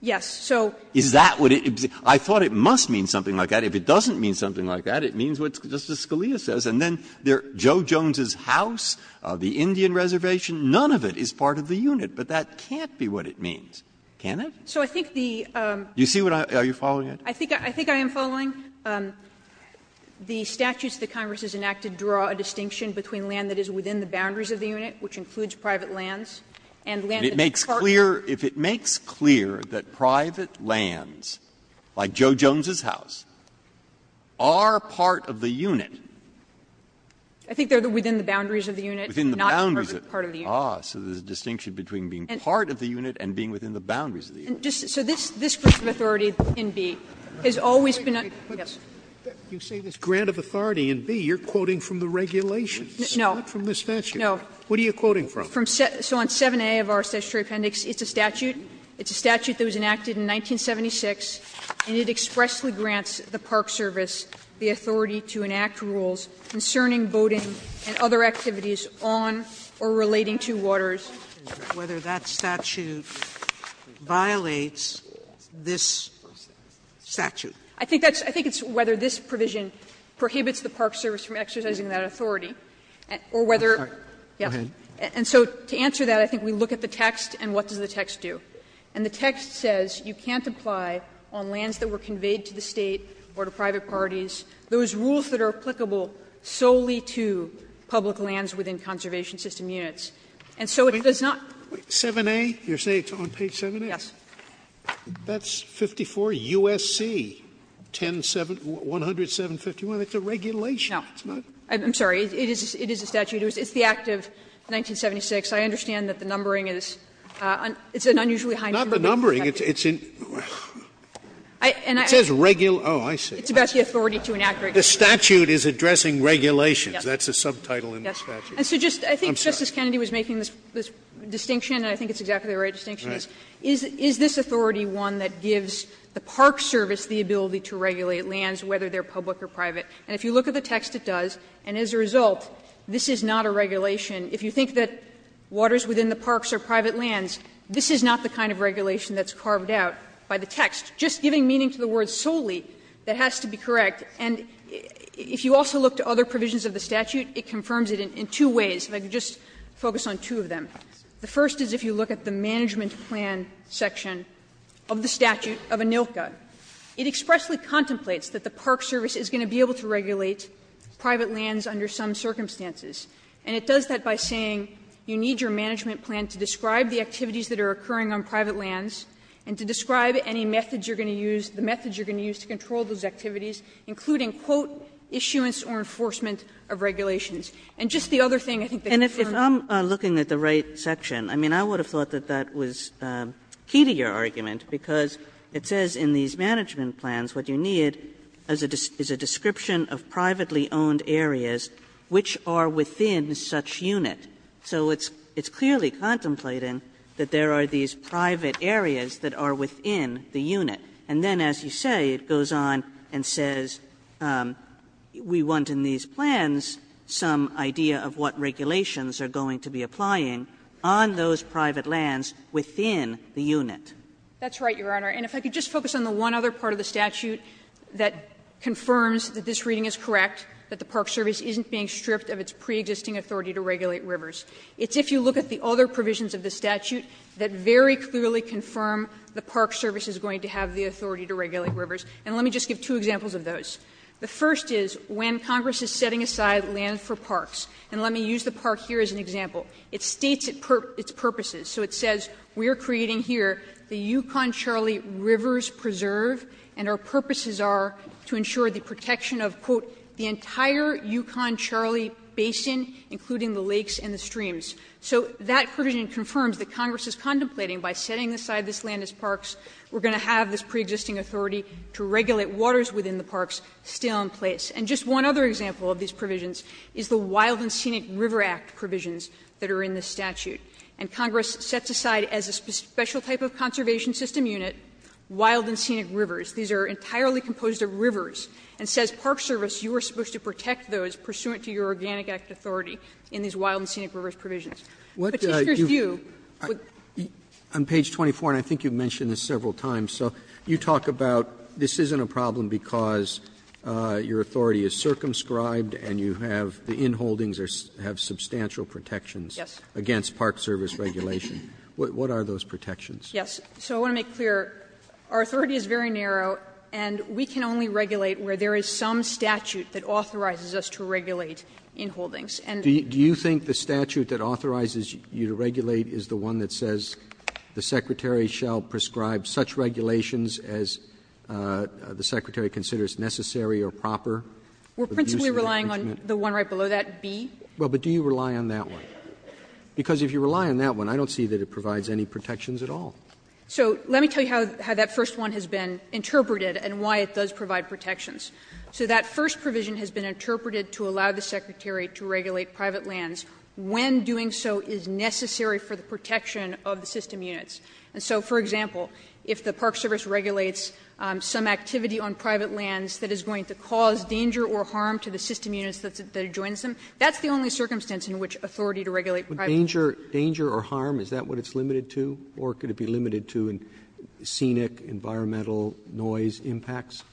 Yes. So is that what it is? I thought it must mean something like that. If it doesn't mean something like that, it means what Justice Scalia says. And then Joe Jones' house, the Indian reservation, none of it is part of the unit. But that can't be what it means, can it? So I think the you see what I are you following it? I think I think I am following. The statutes that Congress has enacted draw a distinction between land that is within park. If it makes clear that private lands, like Joe Jones' house, are part of the unit. I think they are within the boundaries of the unit, not part of the unit. Ah, so there's a distinction between being part of the unit and being within the boundaries of the unit. So this grant of authority in B has always been a yes. You say this grant of authority in B, you are quoting from the regulations. No. Not from the statute. No. What are you quoting from? So on 7A of our statutory appendix, it's a statute. It's a statute that was enacted in 1976, and it expressly grants the Park Service the authority to enact rules concerning boating and other activities on or relating to waters. Whether that statute violates this statute. I think that's I think it's whether this provision prohibits the Park Service from exercising that authority, or whether. Go ahead. And so to answer that, I think we look at the text, and what does the text do? And the text says you can't apply on lands that were conveyed to the State or to private parties those rules that are applicable solely to public lands within conservation system units. And so it does not. 7A, you're saying it's on page 7A? Yes. That's 54 U.S.C. 107, 107.51. It's a regulation. No. I'm sorry. It is a statute. It's the act of 1976. I understand that the numbering is an unusually high number. Not the numbering. It's in the statute. It says regular. Oh, I see. It's about the authority to enact regulations. The statute is addressing regulations. That's a subtitle in the statute. Yes. And so just I think Justice Kennedy was making this distinction, and I think it's exactly the right distinction. Is this authority one that gives the Park Service the ability to regulate lands, whether they're public or private? And if you look at the text, it does, and as a result, this is not a regulation. If you think that waters within the parks are private lands, this is not the kind of regulation that's carved out by the text. Just giving meaning to the word solely, that has to be correct. And if you also look to other provisions of the statute, it confirms it in two ways. If I could just focus on two of them. The first is if you look at the management plan section of the statute of ANILCA. It expressly contemplates that the Park Service is going to be able to regulate private lands under some circumstances. And it does that by saying you need your management plan to describe the activities that are occurring on private lands and to describe any methods you're going to use, the methods you're going to use to control those activities, including, quote, issuance or enforcement of regulations. And just the other thing I think that confirms it. Kagan. Kagan. Kagan. And if I'm looking at the right section, I mean, I would have thought that that was key to your argument, because it says in these management plans what you need is a description of privately owned areas which are within such unit. So it's clearly contemplating that there are these private areas that are within the unit. And then, as you say, it goes on and says we want in these plans some idea of what That's right, Your Honor. And if I could just focus on the one other part of the statute that confirms that this reading is correct, that the Park Service isn't being stripped of its pre-existing authority to regulate rivers. It's if you look at the other provisions of the statute that very clearly confirm the Park Service is going to have the authority to regulate rivers. And let me just give two examples of those. The first is when Congress is setting aside land for parks, and let me use the park here as an example. It states its purposes. So it says we are creating here the Yukon-Charlie Rivers Preserve, and our purposes are to ensure the protection of, quote, the entire Yukon-Charlie basin, including the lakes and the streams. So that provision confirms that Congress is contemplating by setting aside this land as parks, we're going to have this pre-existing authority to regulate waters within the parks still in place. And just one other example of these provisions is the Wild and Scenic River Act provisions. That are in the statute. And Congress sets aside as a special type of conservation system unit, wild and scenic rivers. These are entirely composed of rivers, and says, Park Service, you are supposed to protect those pursuant to your Organic Act authority in these wild and scenic rivers provisions. But take your view with the other provisions of the statute. Roberts, on page 24, and I think you've mentioned this several times, so, you talk about this isn't a problem because your authority is circumscribed and you have the protections against Park Service regulation. What are those protections? Yes. So I want to make clear, our authority is very narrow, and we can only regulate where there is some statute that authorizes us to regulate in holdings. And do you think the statute that authorizes you to regulate is the one that says the Secretary shall prescribe such regulations as the Secretary considers necessary or proper? We're principally relying on the one right below that, B. Well, but do you rely on that one? Because if you rely on that one, I don't see that it provides any protections at all. So let me tell you how that first one has been interpreted and why it does provide protections. So that first provision has been interpreted to allow the Secretary to regulate private lands when doing so is necessary for the protection of the system units. And so, for example, if the Park Service regulates some activity on private lands that is going to cause danger or harm to the system units that adjoins them, that's the only circumstance in which authority to regulate private lands. But danger or harm, is that what it's limited to, or could it be limited to in scenic, environmental noise impacts?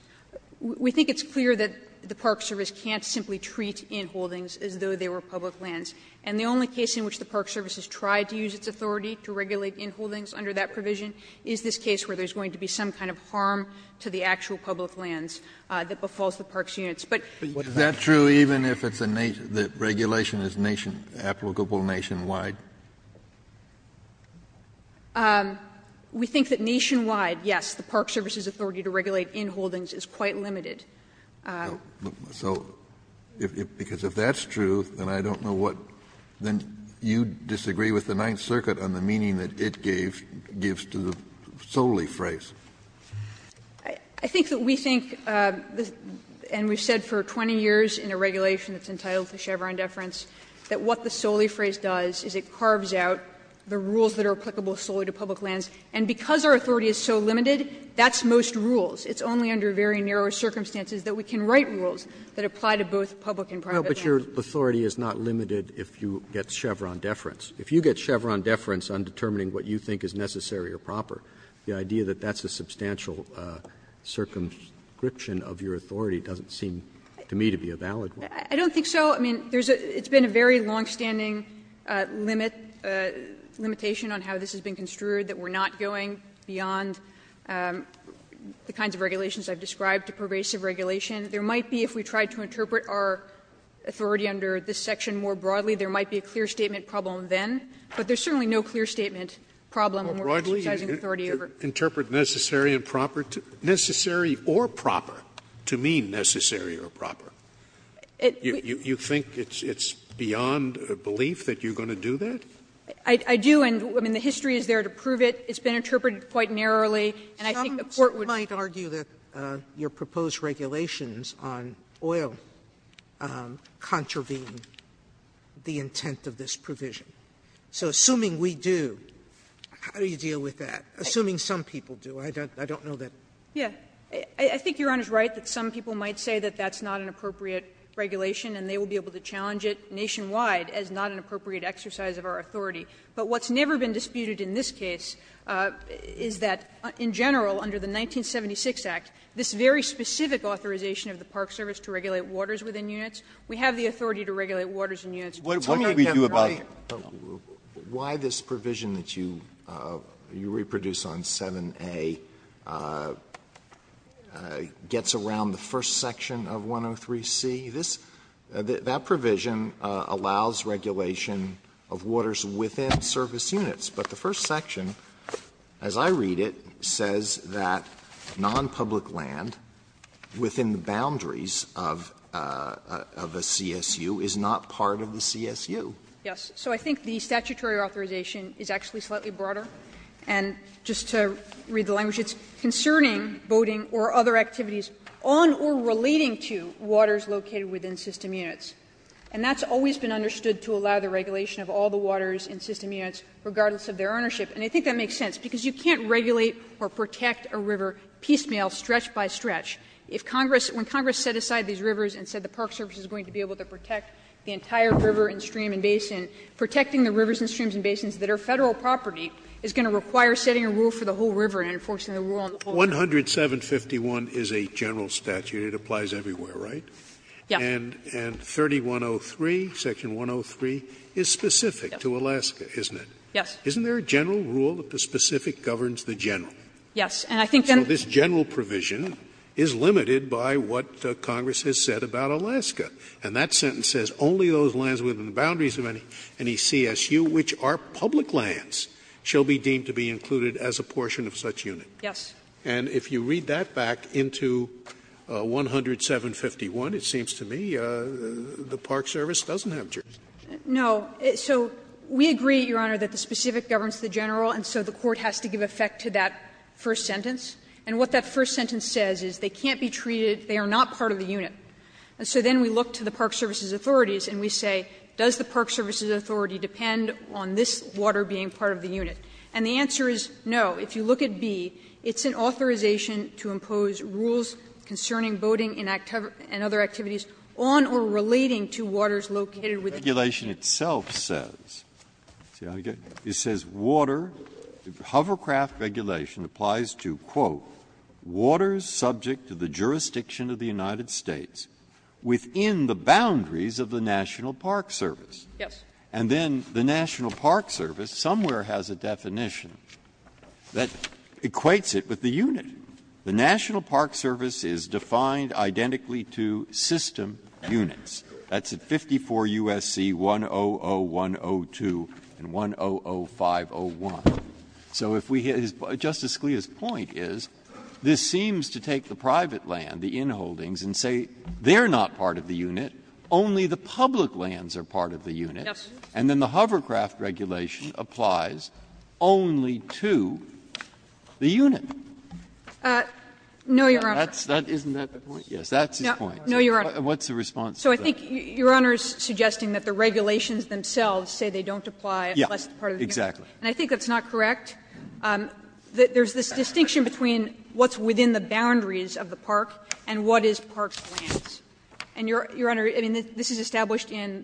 We think it's clear that the Park Service can't simply treat inholdings as though they were public lands. And the only case in which the Park Service has tried to use its authority to regulate inholdings under that provision is this case where there's going to be some kind of harm to the actual public lands that befalls the park's units. But what does that mean? Kennedy, is that true even if it's a nation that regulation is nation – applicable nationwide? We think that nationwide, yes, the Park Service's authority to regulate inholdings is quite limited. So, because if that's true, then I don't know what – then you disagree with the Ninth Circuit on the meaning that it gave, gives to the solely phrase. I think that we think, and we've said for 20 years in a regulation that's entitled to Chevron deference, that what the solely phrase does is it carves out the rules that are applicable solely to public lands. And because our authority is so limited, that's most rules. It's only under very narrow circumstances that we can write rules that apply to both public and private lands. Roberts, but your authority is not limited if you get Chevron deference. If you get Chevron deference on determining what you think is necessary or proper, the idea that that's a substantial circumscription of your authority doesn't seem to me to be a valid one. Kovnerd, I don't think so. I mean, there's a – it's been a very longstanding limit, limitation on how this has been construed, that we're not going beyond the kinds of regulations I've described to pervasive regulation. There might be, if we tried to interpret our authority under this section more broadly, there might be a clear statement problem then. But there's certainly no clear statement problem when we're criticizing the authority over it. Scalia, interpret necessary and proper to – necessary or proper to mean necessary or proper. You think it's beyond belief that you're going to do that? I do, and, I mean, the history is there to prove it. It's been interpreted quite narrowly, and I think the Court would – Sotomayor, some might argue that your proposed regulations on oil contravene the intent of this provision. So assuming we do, how do you deal with that? Assuming some people do. I don't know that. Yeah. I think Your Honor's right that some people might say that that's not an appropriate regulation, and they will be able to challenge it nationwide as not an appropriate exercise of our authority. But what's never been disputed in this case is that, in general, under the 1976 Act, this very specific authorization of the Park Service to regulate waters within units, we have the authority to regulate waters in units. Tell me again why this provision that you reproduce on 7a gets around the first section of 103c. This – that provision allows regulation of waters within service units. But the first section, as I read it, says that nonpublic land within the boundaries of a CSU is not part of the CSU. Yes. So I think the statutory authorization is actually slightly broader. And just to read the language, it's concerning boating or other activities on or relating to waters located within system units. And that's always been understood to allow the regulation of all the waters in system units, regardless of their ownership. And I think that makes sense, because you can't regulate or protect a river piecemeal stretch by stretch. If Congress – when Congress set aside these rivers and said the Park Service is going to be able to protect the entire river and stream and basin, protecting the rivers and streams and basins that are Federal property is going to require setting a rule for the whole river and enforcing the rule on the whole river. Scalia 10751 is a general statute. It applies everywhere, right? And 3103, section 103, is specific to Alaska, isn't it? Yes. Isn't there a general rule that the specific governs the general? Yes. And I think then the general provision is specific to Alaska. It is limited by what Congress has said about Alaska. And that sentence says only those lands within the boundaries of any CSU, which are public lands, shall be deemed to be included as a portion of such unit. Yes. And if you read that back into 10751, it seems to me the Park Service doesn't have jurisdiction. No. So we agree, Your Honor, that the specific governs the general, and so the court has to give effect to that first sentence. And what that first sentence says is they can't be treated, they are not part of the unit. And so then we look to the Park Service's authorities and we say, does the Park Service's authority depend on this water being part of the unit? And the answer is no. If you look at B, it's an authorization to impose rules concerning boating and other activities on or relating to waters located within the unit. Breyer Yes. And then the National Park Service somewhere has a definition that equates it with the unit. The National Park Service is defined identically to system units. That's at 54 U.S.C. 100102 and 100501. Justice Scalia's point is this seems to take the private land, the inholdings, and say they are not part of the unit, only the public lands are part of the unit, and then the Hovercraft regulation applies only to the unit. No, Your Honor. Isn't that the point? Yes, that's his point. No, Your Honor. What's the response to that? So I think Your Honor is suggesting that the regulations themselves say they don't apply unless they are part of the unit. Yes, exactly. And I think that's not correct. There's this distinction between what's within the boundaries of the park and what is parks' lands. And, Your Honor, this is established in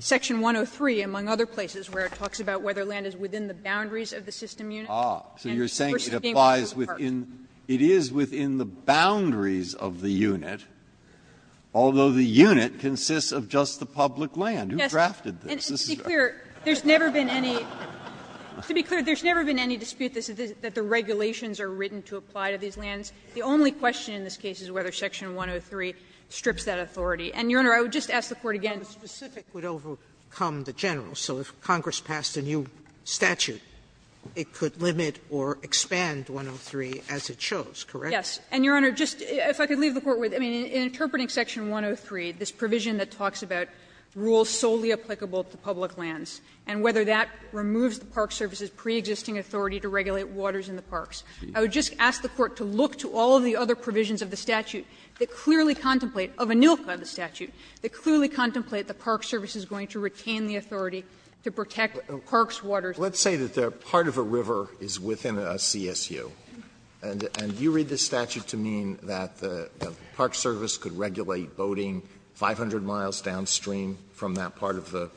section 103, among other places, where it talks about whether land is within the boundaries of the system unit versus being within the park. It is within the boundaries of the unit, although the unit consists of just the public land. Who drafted this? And to be clear, there's never been any dispute that the regulations are written to apply to these lands. The only question in this case is whether section 103 strips that authority. And, Your Honor, I would just ask the Court again. Sotomayor, the specific would overcome the general. So if Congress passed a new statute, it could limit or expand 103 as it shows, correct? Yes. And, Your Honor, just if I could leave the Court with, I mean, in interpreting section 103, this provision that talks about rules solely applicable to public lands, and whether that removes the Park Service's preexisting authority to regulate waters in the parks, I would just ask the Court to look to all of the other provisions of the statute that clearly contemplate, of ANILCA, the statute, that clearly contemplate the Park Service is going to retain the authority to protect parks' waters. Alito, let's say that part of a river is within a CSU, and you read this statute does that have to mean that the Park Service could regulate boating 500 miles downstream from that part of the,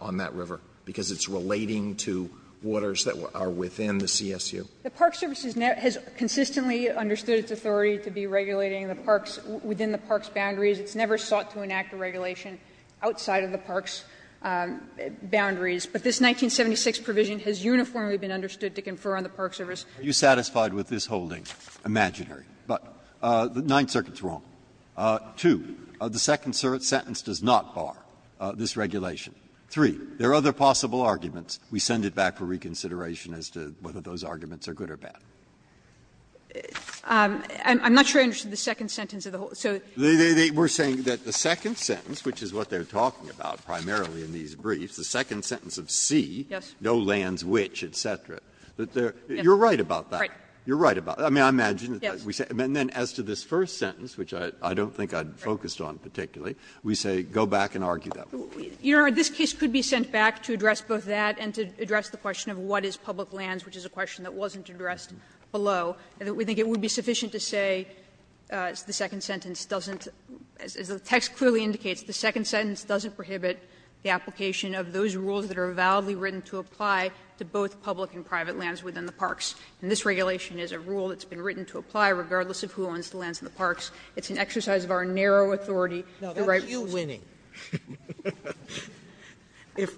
on that river, because it's relating to waters that are within the CSU? The Park Service has consistently understood its authority to be regulating the parks within the parks' boundaries. It's never sought to enact a regulation outside of the parks' boundaries. But this 1976 provision has uniformly been understood to confer on the Park Service. Breyer. Are you satisfied with this holding, imaginary, but the Ninth Circuit's wrong? Two, the second sentence does not bar this regulation. Three, there are other possible arguments. We send it back for reconsideration as to whether those arguments are good or bad. Kagan. I'm not sure I understand the second sentence of the whole. So they were saying that the second sentence, which is what they're talking about primarily in these briefs, the second sentence of C, no lands which, et cetera, et cetera, you're right about that. You're right about that. I mean, I imagine that we say, and then as to this first sentence, which I don't think I focused on particularly, we say go back and argue that one. You know, this case could be sent back to address both that and to address the question of what is public lands, which is a question that wasn't addressed below, and we think it would be sufficient to say the second sentence doesn't, as the text clearly indicates, the second sentence doesn't prohibit the application of those rules that are validly written to apply to both public and private lands within the parks. And this regulation is a rule that's been written to apply regardless of who owns the lands in the parks. It's an exercise of our narrow authority. The right rules. Sotomayor, no, that's you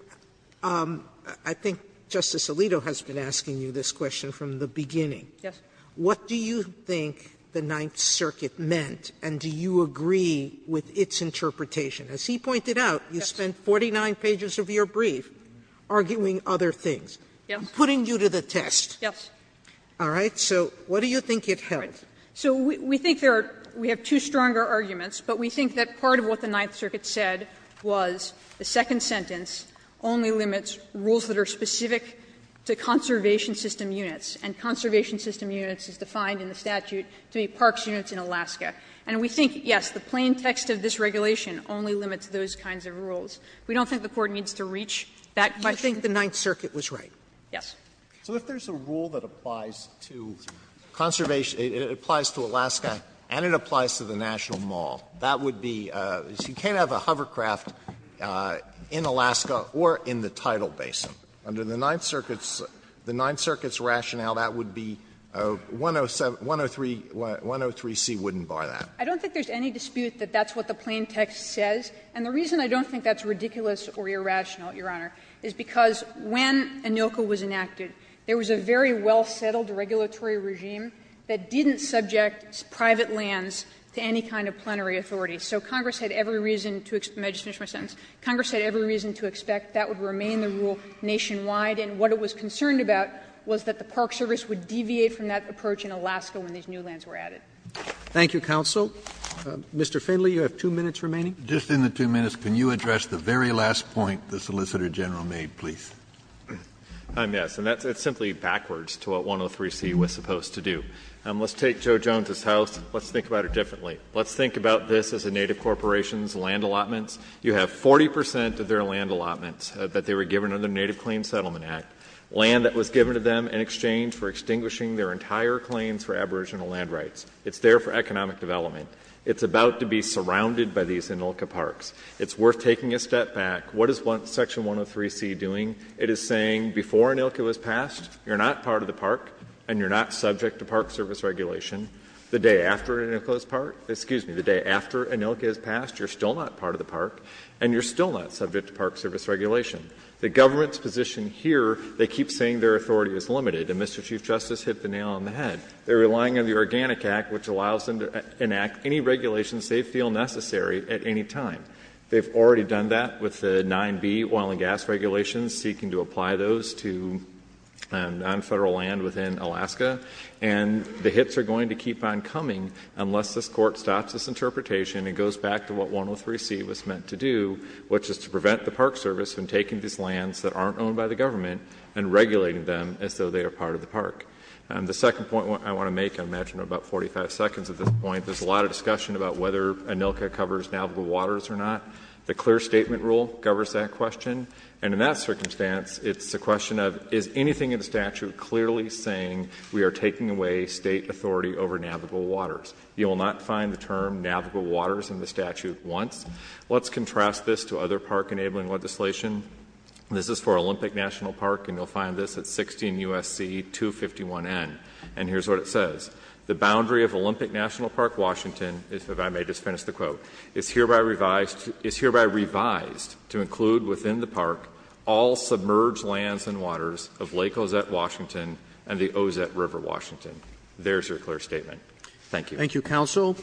winning. I think Justice Alito has been asking you this question from the beginning. Yes. What do you think the Ninth Circuit meant, and do you agree with its interpretation? As he pointed out, you spent 49 pages of your brief. Arguing other things. Yes. Putting you to the test. Yes. All right. So what do you think it held? So we think there are we have two stronger arguments, but we think that part of what the Ninth Circuit said was the second sentence only limits rules that are specific to conservation system units, and conservation system units is defined in the statute to be parks units in Alaska. And we think, yes, the plain text of this regulation only limits those kinds of rules. We don't think the Court needs to reach that. I think the Ninth Circuit was right. Yes. So if there's a rule that applies to conservation, it applies to Alaska and it applies to the National Mall, that would be, you can't have a hovercraft in Alaska or in the tidal basin. Under the Ninth Circuit's rationale, that would be 103C wouldn't bar that. I don't think there's any dispute that that's what the plain text says. And the reason I don't think that's ridiculous or irrational, Your Honor, is because when ANILCA was enacted, there was a very well-settled regulatory regime that didn't subject private lands to any kind of plenary authority. So Congress had every reason to expect the rule nationwide, and what it was concerned about was that the Park Service would deviate from that approach in Alaska when these new lands were added. Thank you, counsel. Mr. Finley, you have two minutes remaining. Just in the two minutes, can you address the very last point the Solicitor General made, please? I'm yes, and that's simply backwards to what 103C was supposed to do. Let's take Joe Jones' house, let's think about it differently. Let's think about this as a Native Corporation's land allotments. You have 40 percent of their land allotments that they were given under the Native Claims Settlement Act, land that was given to them in exchange for extinguishing their entire claims for aboriginal land rights. It's there for economic development. It's about to be surrounded by these Inilka parks. It's worth taking a step back. What is Section 103C doing? It is saying before Inilka was passed, you're not part of the park and you're not subject to Park Service regulation. The day after Inilka was passed, you're still not part of the park and you're still not subject to Park Service regulation. The government's position here, they keep saying their authority is limited, and Mr. Chief Justice hit the nail on the head. They're relying on the Organic Act, which allows them to enact any regulations they feel necessary at any time. They've already done that with the 9B oil and gas regulations, seeking to apply those to non-Federal land within Alaska. And the hits are going to keep on coming unless this Court stops this interpretation and goes back to what 103C was meant to do, which is to prevent the Park Service from taking these lands that aren't owned by the government and regulating them as though they are part of the park. The second point I want to make, I imagine we're about 45 seconds at this point, there's a lot of discussion about whether Inilka covers navigable waters or not. The clear statement rule covers that question. And in that circumstance, it's a question of, is anything in the statute clearly saying we are taking away State authority over navigable waters? You will not find the term navigable waters in the statute once. Let's contrast this to other park-enabling legislation. This is for Olympic National Park, and you'll find this at 16 U.S.C. 251N. And here's what it says. The boundary of Olympic National Park, Washington, if I may just finish the quote, is hereby revised to include within the park all submerged lands and waters of Lake Ozette, Washington and the Ozette River, Washington. There's your clear statement. Thank you. Thank you, Counsel.